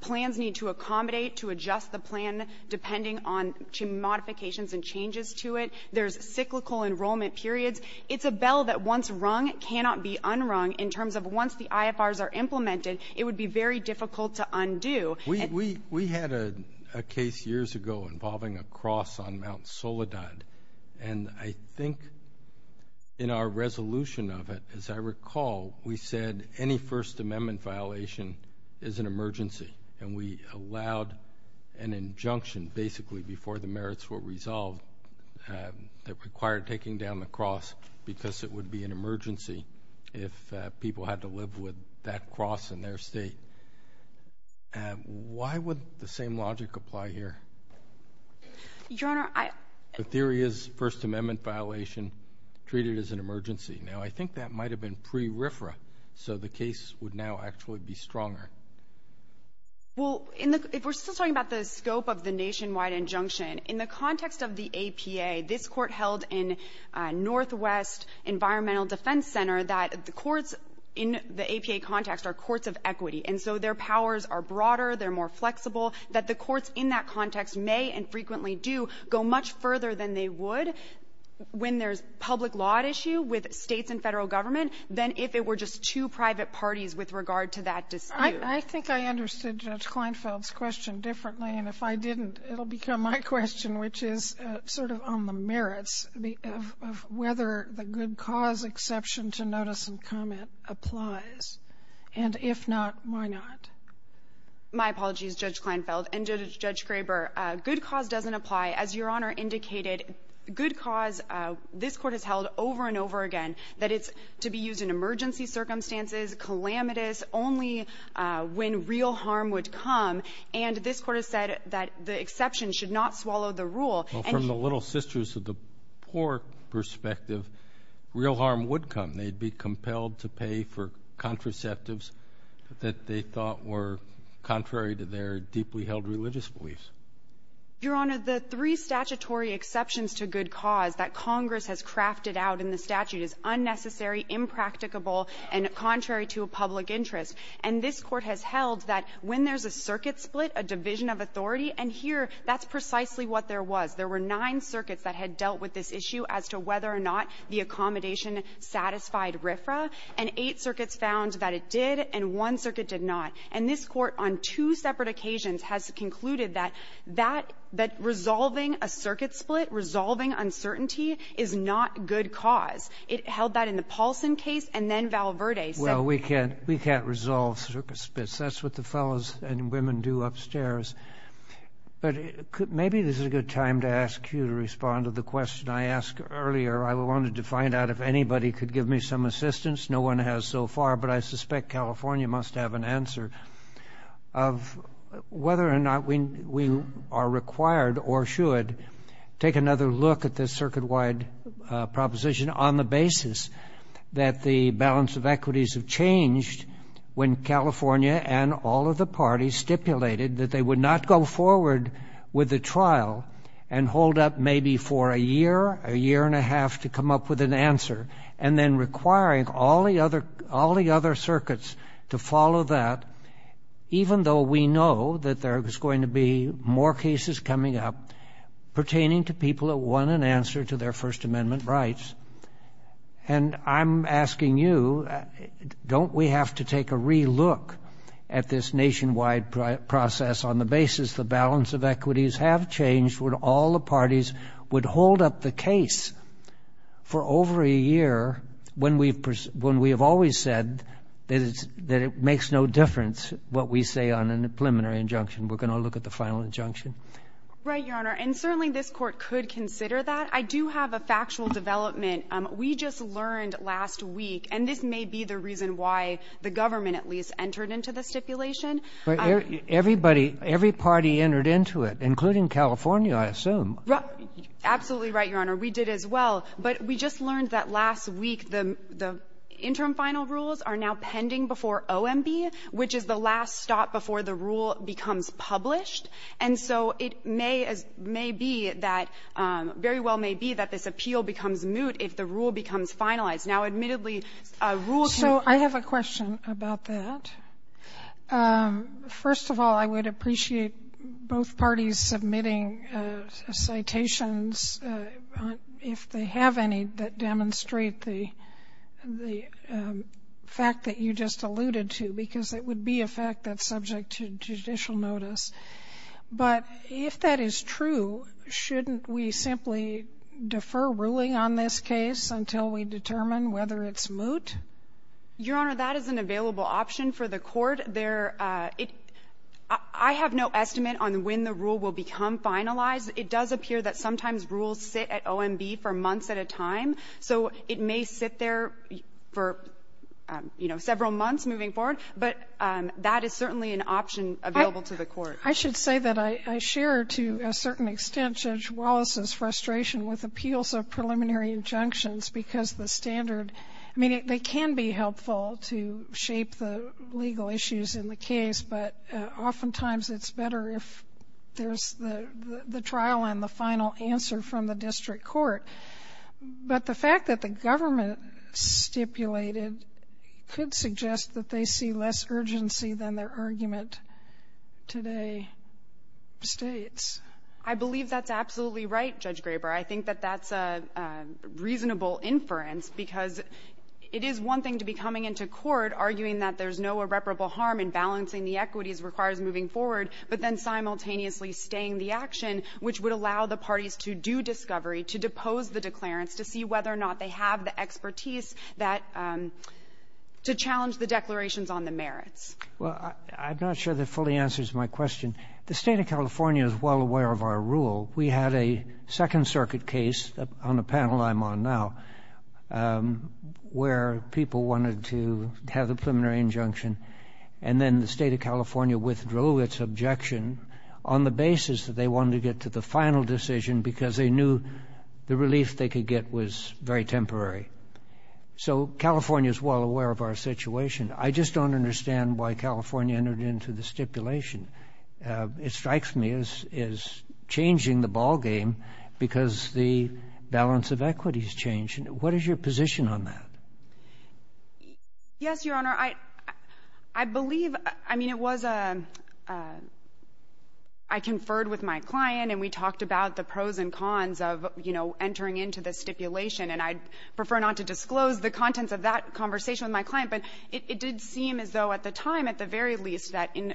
plans need to accommodate to adjust the plan depending on modifications and changes to it, there's cyclical enrollment periods, it's a bell that once rung cannot be unrung in terms of once the IFRs are implemented, it would be very difficult to undo. We had a case years ago involving a cross on Mount Soledad. And I think in our resolution of it, as I recall, we said any First Amendment violation is an emergency. And we allowed an injunction basically before the merits were resolved that required taking down the cross because it would be an emergency if people had to live with that cross in their state. Why would the same logic apply here? Your Honor, I -- The theory is First Amendment violation treated as an emergency. Now, I think that might have been pre-RIFRA, so the case would now actually be stronger. Well, if we're still talking about the scope of the nationwide injunction, in the context of the APA, this Court held in Northwest Environmental Defense Center that the courts in the APA context are courts of equity. And so their powers are broader, they're more flexible, that the courts in that context may and frequently do go much further than they would when there's public law at issue with states and federal government than if it were just two private parties with regard to that dispute. I think I understood Judge Kleinfeld's question differently, and if I didn't, it'll become my question, which is sort of on the merits of whether the good cause exception to notice and comment applies. And if not, why not? My apologies, Judge Kleinfeld and Judge Kraber. Good cause doesn't apply. As Your Honor indicated, good cause, this Court has held over and over again that it's to be used in emergency circumstances, calamitous, only when real harm would come. And this Court has said that the exception should not swallow the rule. Well, from the little sisters of the poor perspective, real harm would come. They'd be compelled to pay for contraceptives that they thought were contrary to their deeply held religious beliefs. Your Honor, the three statutory exceptions to good cause that Congress has crafted out in the statute is unnecessary, impracticable, and contrary to a public interest. And this Court has held that when there's a circuit split, a division of authority, and here, that's precisely what there was. There were nine circuits that had dealt with this issue as to whether or not the accommodation satisfied RFRA, and eight circuits found that it did, and one circuit did not. And this Court, on two separate occasions, has concluded that resolving a circuit split, resolving uncertainty, is not good cause. It held that in the Paulson case, and then Valverde said— That's what the fellows and women do upstairs. But maybe this is a good time to ask you to respond to the question I asked earlier. I wanted to find out if anybody could give me some assistance. No one has so far, but I suspect California must have an answer of whether or not we are required or should take another look at this circuit-wide proposition on the basis that the balance of equities have changed when California and all of the parties stipulated that they would not go forward with the trial and hold up maybe for a year, a year and a half to come up with an answer, and then requiring all the other circuits to follow that, even though we know that there is going to be more cases coming up pertaining to people that want an answer to their First Amendment rights. And I'm asking you, don't we have to take a re-look at this nationwide process on the basis the balance of equities have changed when all the parties would hold up the case for over a year when we have always said that it makes no difference what we say on a preliminary injunction. We're going to look at the final injunction. Right, Your Honor. And certainly this Court could consider that. But I do have a factual development. We just learned last week, and this may be the reason why the government at least entered into the stipulation. Every party entered into it, including California, I assume. Absolutely right, Your Honor. We did as well. But we just learned that last week the interim final rules are now pending before OMB, which is the last stop before the rule becomes published. And so it may be that, very well may be, that this appeal becomes moot if the rule becomes finalized. Now, admittedly, rules can't be changed. So I have a question about that. First of all, I would appreciate both parties submitting citations, if they have any, that demonstrate the fact that you just alluded to, because it would be a fact that it's subject to judicial notice. But if that is true, shouldn't we simply defer ruling on this case until we determine whether it's moot? Your Honor, that is an available option for the Court. I have no estimate on when the rule will become finalized. It does appear that sometimes rules sit at OMB for months at a time. So it may sit there for several months moving forward. But that is certainly an option available to the Court. I should say that I share, to a certain extent, Judge Wallace's frustration with appeals of preliminary injunctions, because the standard, I mean, they can be helpful to shape the legal issues in the case, but oftentimes it's better if there's the trial and the final answer from the district court. But the fact that the government stipulated could suggest that they see less urgency than their argument today states. I believe that's absolutely right, Judge Graber. I think that that's a reasonable inference, because it is one thing to be coming into court arguing that there's no irreparable harm in balancing the equities required moving forward, but then simultaneously staying the action, which would allow the parties to do discovery, to depose the declarants, to see whether or not they have the expertise that to challenge the declarations on the merits. Well, I'm not sure that fully answers my question. The State of California is well aware of our rule. We had a Second Circuit case on a panel I'm on now where people wanted to have a preliminary injunction, and then the State of California withdrew its objection on the basis that they wanted to get to the final decision because they knew the relief they could get was very temporary. So California is well aware of our situation. I just don't understand why California entered into the stipulation. It strikes me as changing the ballgame because the balance of equity is changing. What is your position on that? Yes, Your Honor. I believe, I mean, it was a — I conferred with my client, and we talked about the pros and cons of, you know, entering into the stipulation. And I'd prefer not to disclose the contents of that conversation with my client, but it did seem as though at the time, at the very least, that in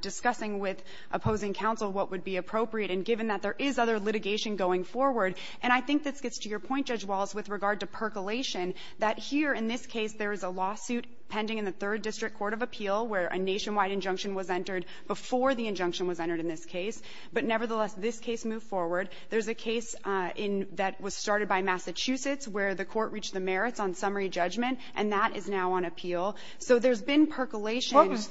discussing with opposing counsel what would be appropriate, and given that there is other litigation going forward, and I think this gets to your point, Judge Walz, with regard to percolation, that here, in this case, there is a lawsuit pending in the Third District Court of Appeal, where a nationwide injunction was entered before the injunction was entered in this case. But nevertheless, this case moved forward. There's a case in — that was started by Massachusetts, where the court reached the merits on summary judgment, and that is now on appeal. So there's been percolation. What was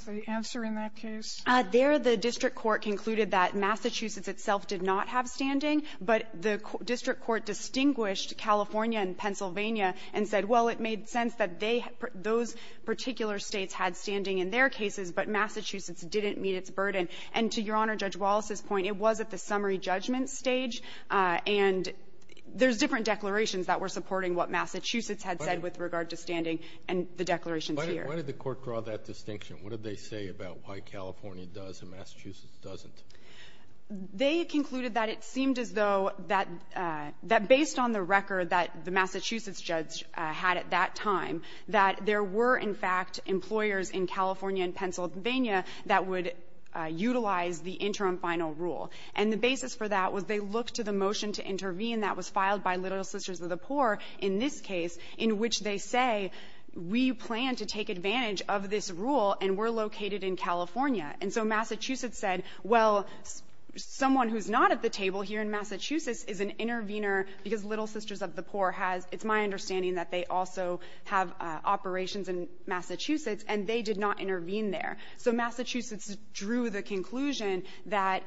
the answer in that case? There, the district court concluded that Massachusetts itself did not have standing, but the district court distinguished California and Pennsylvania and said, well, it made sense that they — those particular States had standing in their cases, but Massachusetts didn't meet its burden. And to Your Honor, Judge Walz's point, it was at the summary judgment stage, and there's different declarations that were supporting what Massachusetts had said with regard to standing, and the declarations here. But why did the court draw that distinction? What did they say about why California does and Massachusetts doesn't? They concluded that it seemed as though that — that based on the record that the Massachusetts judge had at that time, that there were, in fact, employers in California and Pennsylvania that would utilize the interim final rule. And the basis for that was they looked to the motion to intervene that was filed by Little Sisters of the Poor in this case, in which they say, we plan to take advantage of this rule, and we're located in California. And so Massachusetts said, well, someone who's not at the table here in Massachusetts is an intervener because Little Sisters of the Poor has — it's my understanding that they also have operations in Massachusetts, and they did not intervene there. So Massachusetts drew the conclusion that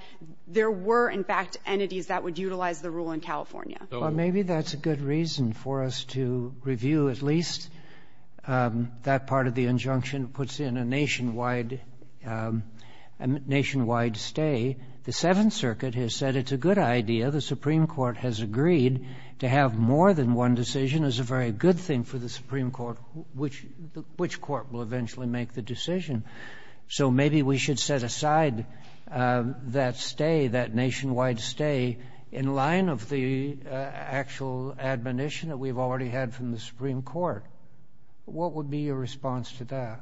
there were, in fact, entities that would utilize the rule in California. So — Kagan. Well, maybe that's a good reason for us to review at least that part of the injunction that puts in a nationwide — a nationwide stay. The Seventh Circuit has said it's a good idea. The Supreme Court has agreed to have more than one decision is a very good thing for the Supreme Court, which — which court will eventually make the decision. So maybe we should set aside that stay, that nationwide stay, in line of the actual admonition that we've already had from the Supreme Court. What would be your response to that?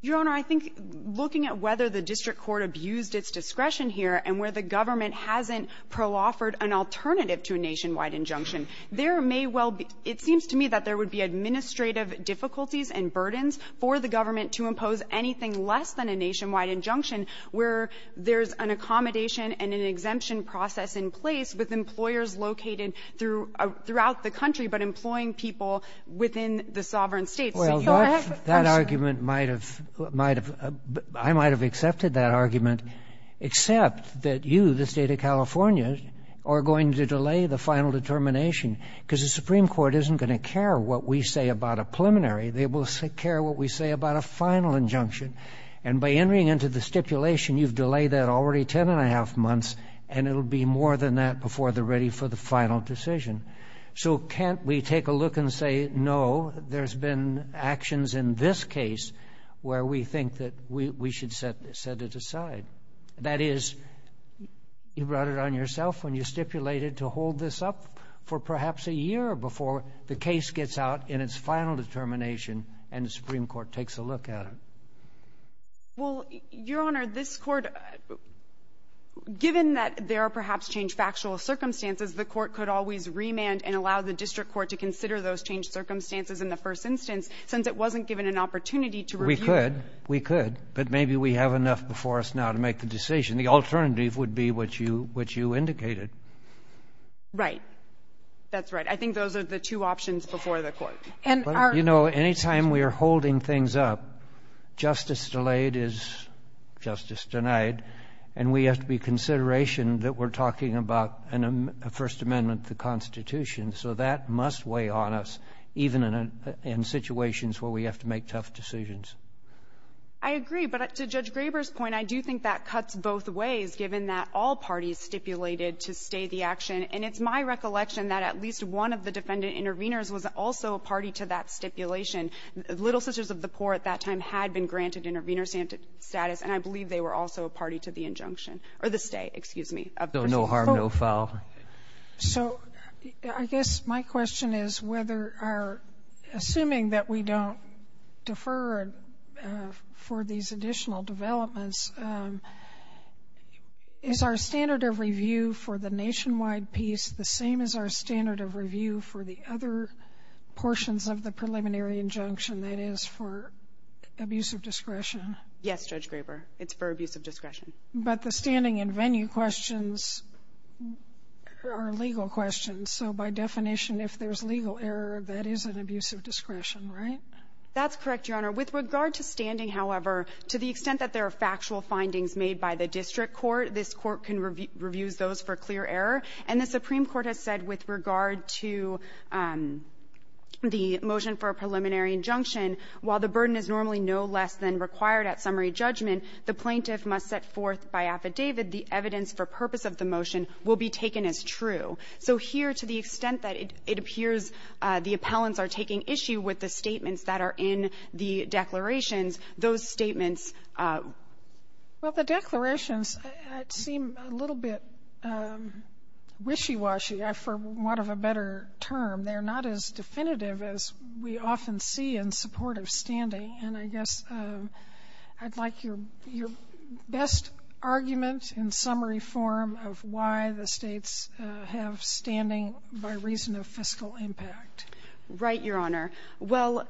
Your Honor, I think looking at whether the district court abused its discretion here and where the government hasn't pro-offered an alternative to a nationwide injunction, there may well be — it seems to me that there would be administrative difficulties and burdens for the government to impose anything less than a nationwide injunction where there's an accommodation and an exemption process in place with in the sovereign states. Well, that argument might have — I might have accepted that argument, except that you, the state of California, are going to delay the final determination, because the Supreme Court isn't going to care what we say about a preliminary. They will care what we say about a final injunction. And by entering into the stipulation, you've delayed that already 10 and a half months, and it'll be more than that before they're ready for the final decision. So can't we take a look and say, no, there's been actions in this case where we think that we should set it aside? That is, you brought it on yourself when you stipulated to hold this up for perhaps a year before the case gets out in its final determination and the Supreme Court takes a look at it. Well, Your Honor, this court — given that there are perhaps changed factual circumstances, the court could always remand and allow the district court to consider those changed circumstances in the first instance, since it wasn't given an opportunity to review — We could. We could. But maybe we have enough before us now to make the decision. The alternative would be what you indicated. Right. That's right. I think those are the two options before the court. And our — But, you know, any time we are holding things up, justice delayed is justice denied. And we have to be in consideration that we're talking about a First Amendment to the Constitution. So that must weigh on us, even in situations where we have to make tough decisions. I agree. But to Judge Graber's point, I do think that cuts both ways, given that all parties stipulated to stay the action. And it's my recollection that at least one of the defendant intervenors was also a party to that stipulation. Little Sisters of the Poor at that time had been granted intervenor status, and I believe they were also a party to the injunction — or the stay, excuse me — So no harm, no foul. So I guess my question is whether our — assuming that we don't defer for these additional developments, is our standard of review for the nationwide piece the same as our standard of review for the other portions of the preliminary injunction, that is, for abuse of discretion? Yes, Judge Graber. It's for abuse of discretion. But the standing and venue questions are legal questions. So by definition, if there's legal error, that is an abuse of discretion, right? That's correct, Your Honor. With regard to standing, however, to the extent that there are factual findings made by the district court, this Court can review those for clear error. And the Supreme Court has said with regard to the motion for a preliminary injunction, while the burden is normally no less than required at summary judgment, the plaintiff must set forth by affidavit the evidence for purpose of the motion will be taken as true. So here, to the extent that it appears the appellants are taking issue with the statements that are in the declarations, those statements — Well, the declarations seem a little bit wishy-washy, for want of a better term. They're not as definitive as we often see in support of standing. And I guess I'd like your best argument in summary form of why the states have standing by reason of fiscal impact. Right, Your Honor. Well,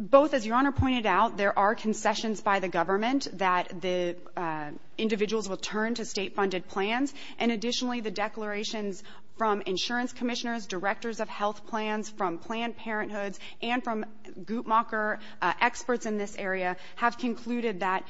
both, as Your Honor pointed out, there are concessions by the government that the individuals will turn to state-funded plans. And additionally, the declarations from insurance commissioners, directors of health plans, from Planned Parenthoods, and from Guttmacher experts in this area have concluded that,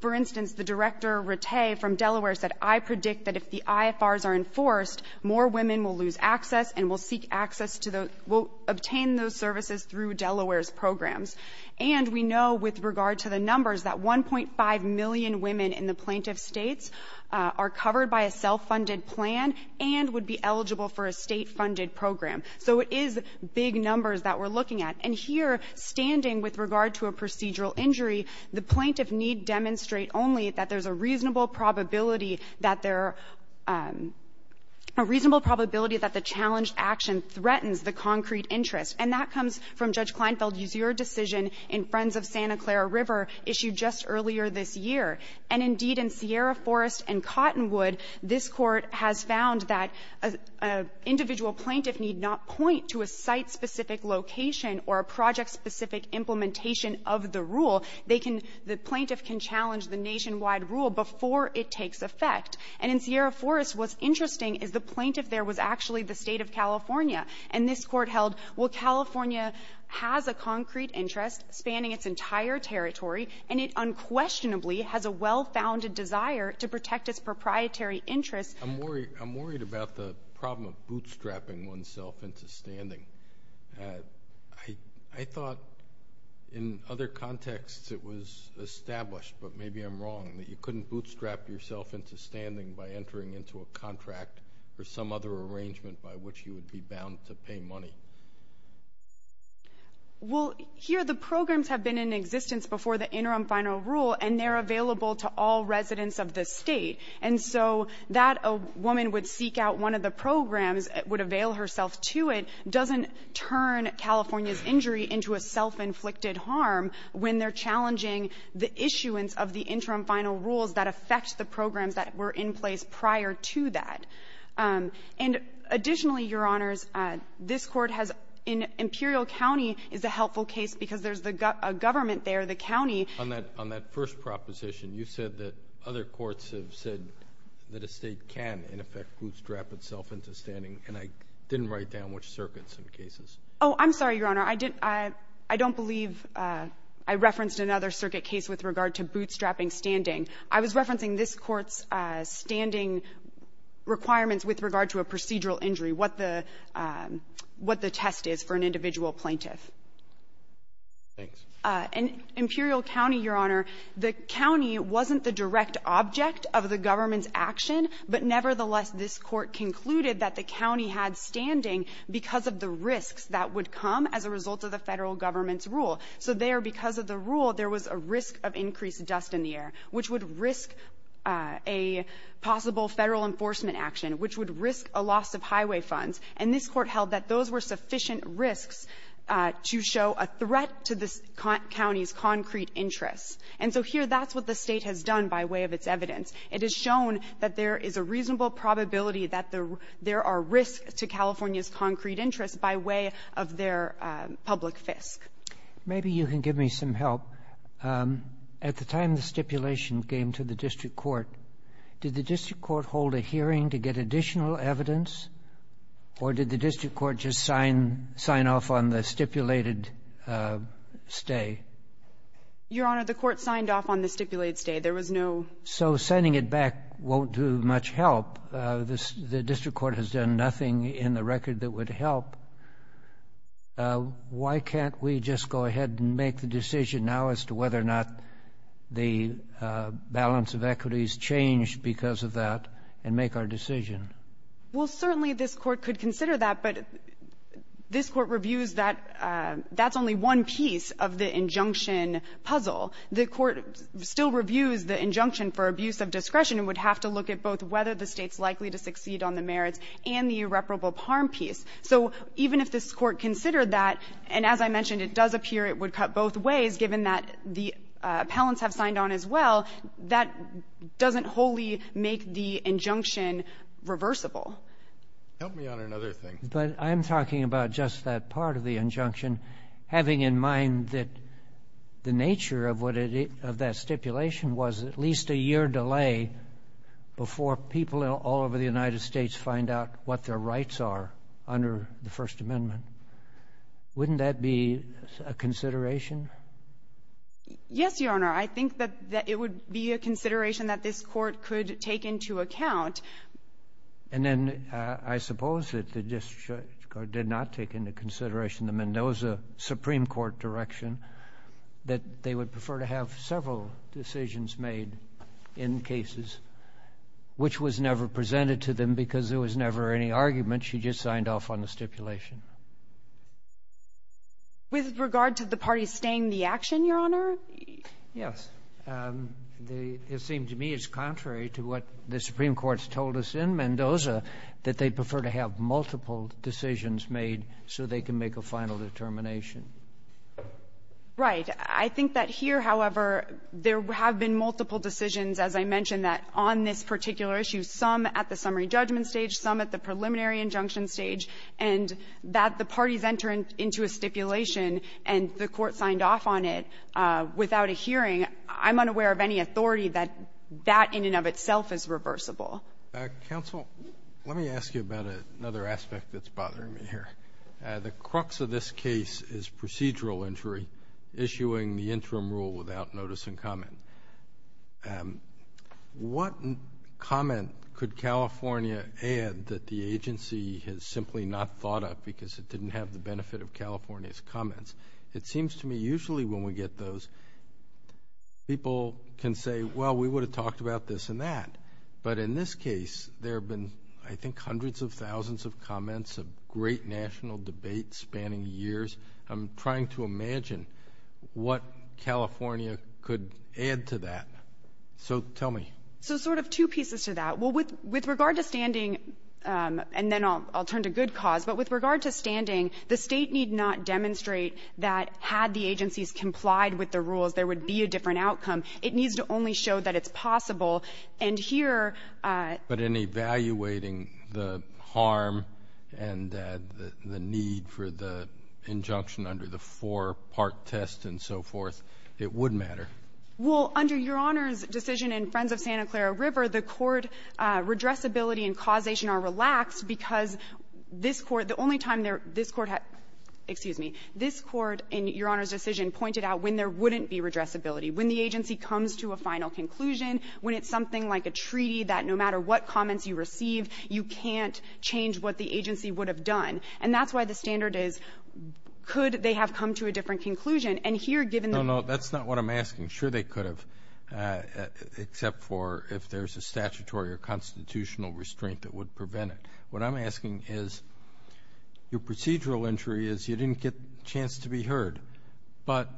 for instance, the Director Rattay from Delaware said, I predict that if the IFRs are enforced, more women will lose access and will seek access to the — will obtain those services through Delaware's programs. And we know with regard to the numbers that 1.5 million women in the plaintiff's states are covered by a self-funded plan and would be eligible for a state-funded program. So it is big numbers that we're looking at. And here, standing with regard to a procedural injury, the plaintiff need demonstrate only that there's a reasonable probability that there — a reasonable probability that the challenged action threatens the concrete interest. And that comes from Judge Kleinfeld's decision in Friends of Santa Clara River, issued just earlier this year. And indeed, in Sierra Forest and Cottonwood, this Court has found that an individual plaintiff need not point to a site-specific location or a project-specific implementation of the rule. They can — the plaintiff can challenge the nationwide rule before it takes effect. And in Sierra Forest, what's interesting is the plaintiff there was actually the State of California. And this Court held, well, California has a concrete interest spanning its entire territory, and it unquestionably has a well-founded desire to protect its proprietary interests. I'm worried — I'm worried about the problem of bootstrapping oneself into standing. I thought in other contexts it was established, but maybe I'm wrong, that you couldn't bootstrap yourself into standing by entering into a contract for some other arrangement by which you would be bound to pay money. Well, here, the programs have been in existence before the interim final rule, and they're available to all residents of the State. And so that a woman would seek out one of the programs, would avail herself to it, doesn't turn California's injury into a self-inflicted harm when they're challenging the issuance of the interim final rules that affect the programs that were in place prior to that. And additionally, Your Honors, this Court has — in Imperial County is a helpful case because there's a government there, the county — On that — on that first proposition, you said that other courts have said that a State can, in effect, bootstrap itself into standing. And I didn't write down which circuits and cases. Oh, I'm sorry, Your Honor. I didn't — I don't believe I referenced another circuit case with regard to bootstrapping standing. I was referencing this Court's standing requirements with regard to a procedural injury, what the — what the test is for an individual plaintiff. Thanks. In Imperial County, Your Honor, the county wasn't the direct object of the government's action, but nevertheless, this Court concluded that the county had standing because of the risks that would come as a result of the Federal government's rule. So there, because of the rule, there was a risk of increased dust in the air, which would risk a possible Federal enforcement action, which would risk a loss of highway funds. And this Court held that those were sufficient risks to show a threat to the county's concrete interests. And so here, that's what the State has done by way of its evidence. It has shown that there is a reasonable probability that there are risks to California's concrete interests by way of their public fisc. Maybe you can give me some help. At the time the stipulation came to the District Court, did the District Court hold a hearing to get additional evidence, or did the District Court just sign — sign off on the stipulated stay? Your Honor, the Court signed off on the stipulated stay. There was no — So sending it back won't do much help. The District Court has done nothing in the record that would help. Why can't we just go ahead and make the decision now as to whether or not the balance of equity is changed because of that and make our decision? Well, certainly this Court could consider that, but this Court reviews that — that's only one piece of the injunction puzzle. The Court still reviews the injunction for abuse of discretion and would have to look at both whether the State's likely to succeed on the merits and the irreparable harm piece. So even if this Court considered that, and as I mentioned, it does appear it would cut both ways given that the appellants have signed on as well, that doesn't wholly make the injunction reversible. Help me on another thing. But I'm talking about just that part of the injunction, having in mind that the nature of what it — of that stipulation was at least a year delay before people all over the United States find out what their rights are under the First Amendment. Wouldn't that be a consideration? Yes, Your Honor. I think that it would be a consideration that this Court could take into account. And then I suppose that the District Court did not take into consideration the Mendoza Supreme Court direction that they would prefer to have several decisions made in cases which was never presented to them because there was never any argument. She just signed off on the stipulation. With regard to the parties staying the action, Your Honor? Yes. It seems to me it's contrary to what the Supreme Court's told us in Mendoza, that they'd prefer to have multiple decisions made so they can make a final determination. Right. I think that here, however, there have been multiple decisions, as I mentioned, that have been made on this particular issue, some at the summary judgment stage, some at the preliminary injunction stage, and that the parties enter into a stipulation and the Court signed off on it without a hearing. I'm unaware of any authority that that in and of itself is reversible. Counsel, let me ask you about another aspect that's bothering me here. The crux of this case is procedural injury issuing the interim rule without notice and comment. What comment could California add that the agency has simply not thought of because it didn't have the benefit of California's comments? It seems to me usually when we get those, people can say, well, we would have talked about this and that. But in this case, there have been, I think, hundreds of thousands of comments, of great national debates spanning years. I'm trying to imagine what California could add to that. So tell me. So sort of two pieces to that. Well, with regard to standing, and then I'll turn to good cause, but with regard to standing, the state need not demonstrate that had the agencies complied with the rules, there would be a different outcome. It needs to only show that it's possible. And here But in evaluating the harm and the need for the injunction under the four-part test and so forth, it would matter. Well, under Your Honor's decision in Friends of Santa Clara River, the court redressability and causation are relaxed because this court, the only time this court had, excuse me, this court in Your Honor's decision pointed out when there wouldn't be redressability, when the agency comes to a final conclusion, when it's something like a treaty that no matter what comments you receive, you can't change what the agency would have done. And that's why the standard is, could they have come to a different conclusion? And here, given No, no, that's not what I'm asking. Sure, they could have, except for if there's a statutory or constitutional restraint that would prevent it. What I'm asking is, your procedural injury is you didn't get a chance to be heard. But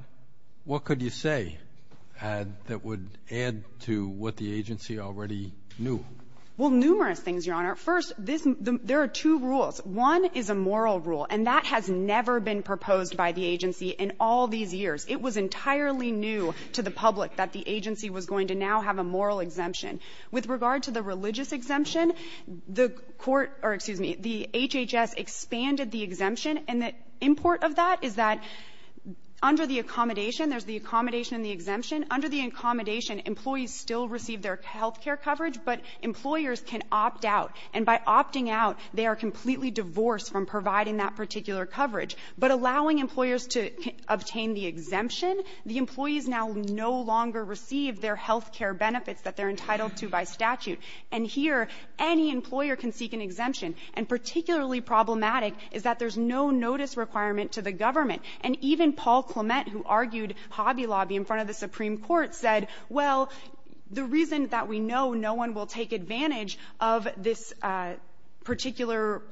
what could you say that would add to what the agency already knew? Well, numerous things, Your Honor. First, there are two rules. One is a moral rule, and that has never been proposed by the agency in all these years. It was entirely new to the public that the agency was going to now have a moral exemption. With regard to the religious exemption, the court or excuse me, the HHS expanded the exemption. And the import of that is that under the accommodation, there's the accommodation and the exemption. Under the accommodation, employees still receive their health care coverage, but employers can opt out. And by opting out, they are completely divorced from providing that particular coverage. But allowing employers to obtain the exemption, the employees now no longer receive their health care benefits that they're entitled to by statute. And here, any employer can seek an exemption. And particularly problematic is that there's no notice requirement to the government. And even Paul Clement, who argued Hobby Lobby in front of the Supreme Court, said, well, the reason that we know no one will take advantage of this particular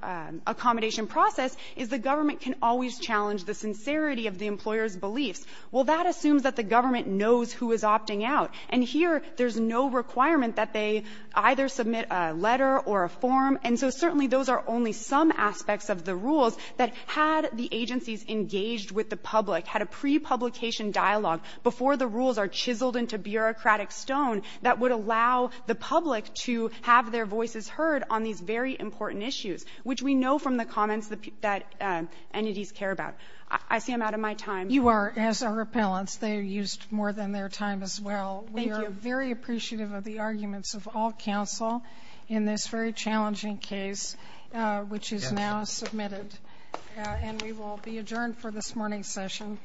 accommodation process is the government can always challenge the sincerity of the employer's beliefs. Well, that assumes that the government knows who is opting out. And here, there's no requirement that they either submit a letter or a form. And so certainly, those are only some aspects of the rules that had the agencies engaged with the public, had a pre-publication dialogue before the rules are chiseled into bureaucratic stone that would allow the public to have their voices heard on these very important issues, which we know from the comments that entities care about. I see I'm out of my time. You are, as are appellants. They used more than their time as well. We are very appreciative of the arguments of all counsel in this very challenging case, which is now submitted. And we will be adjourned for this morning's session.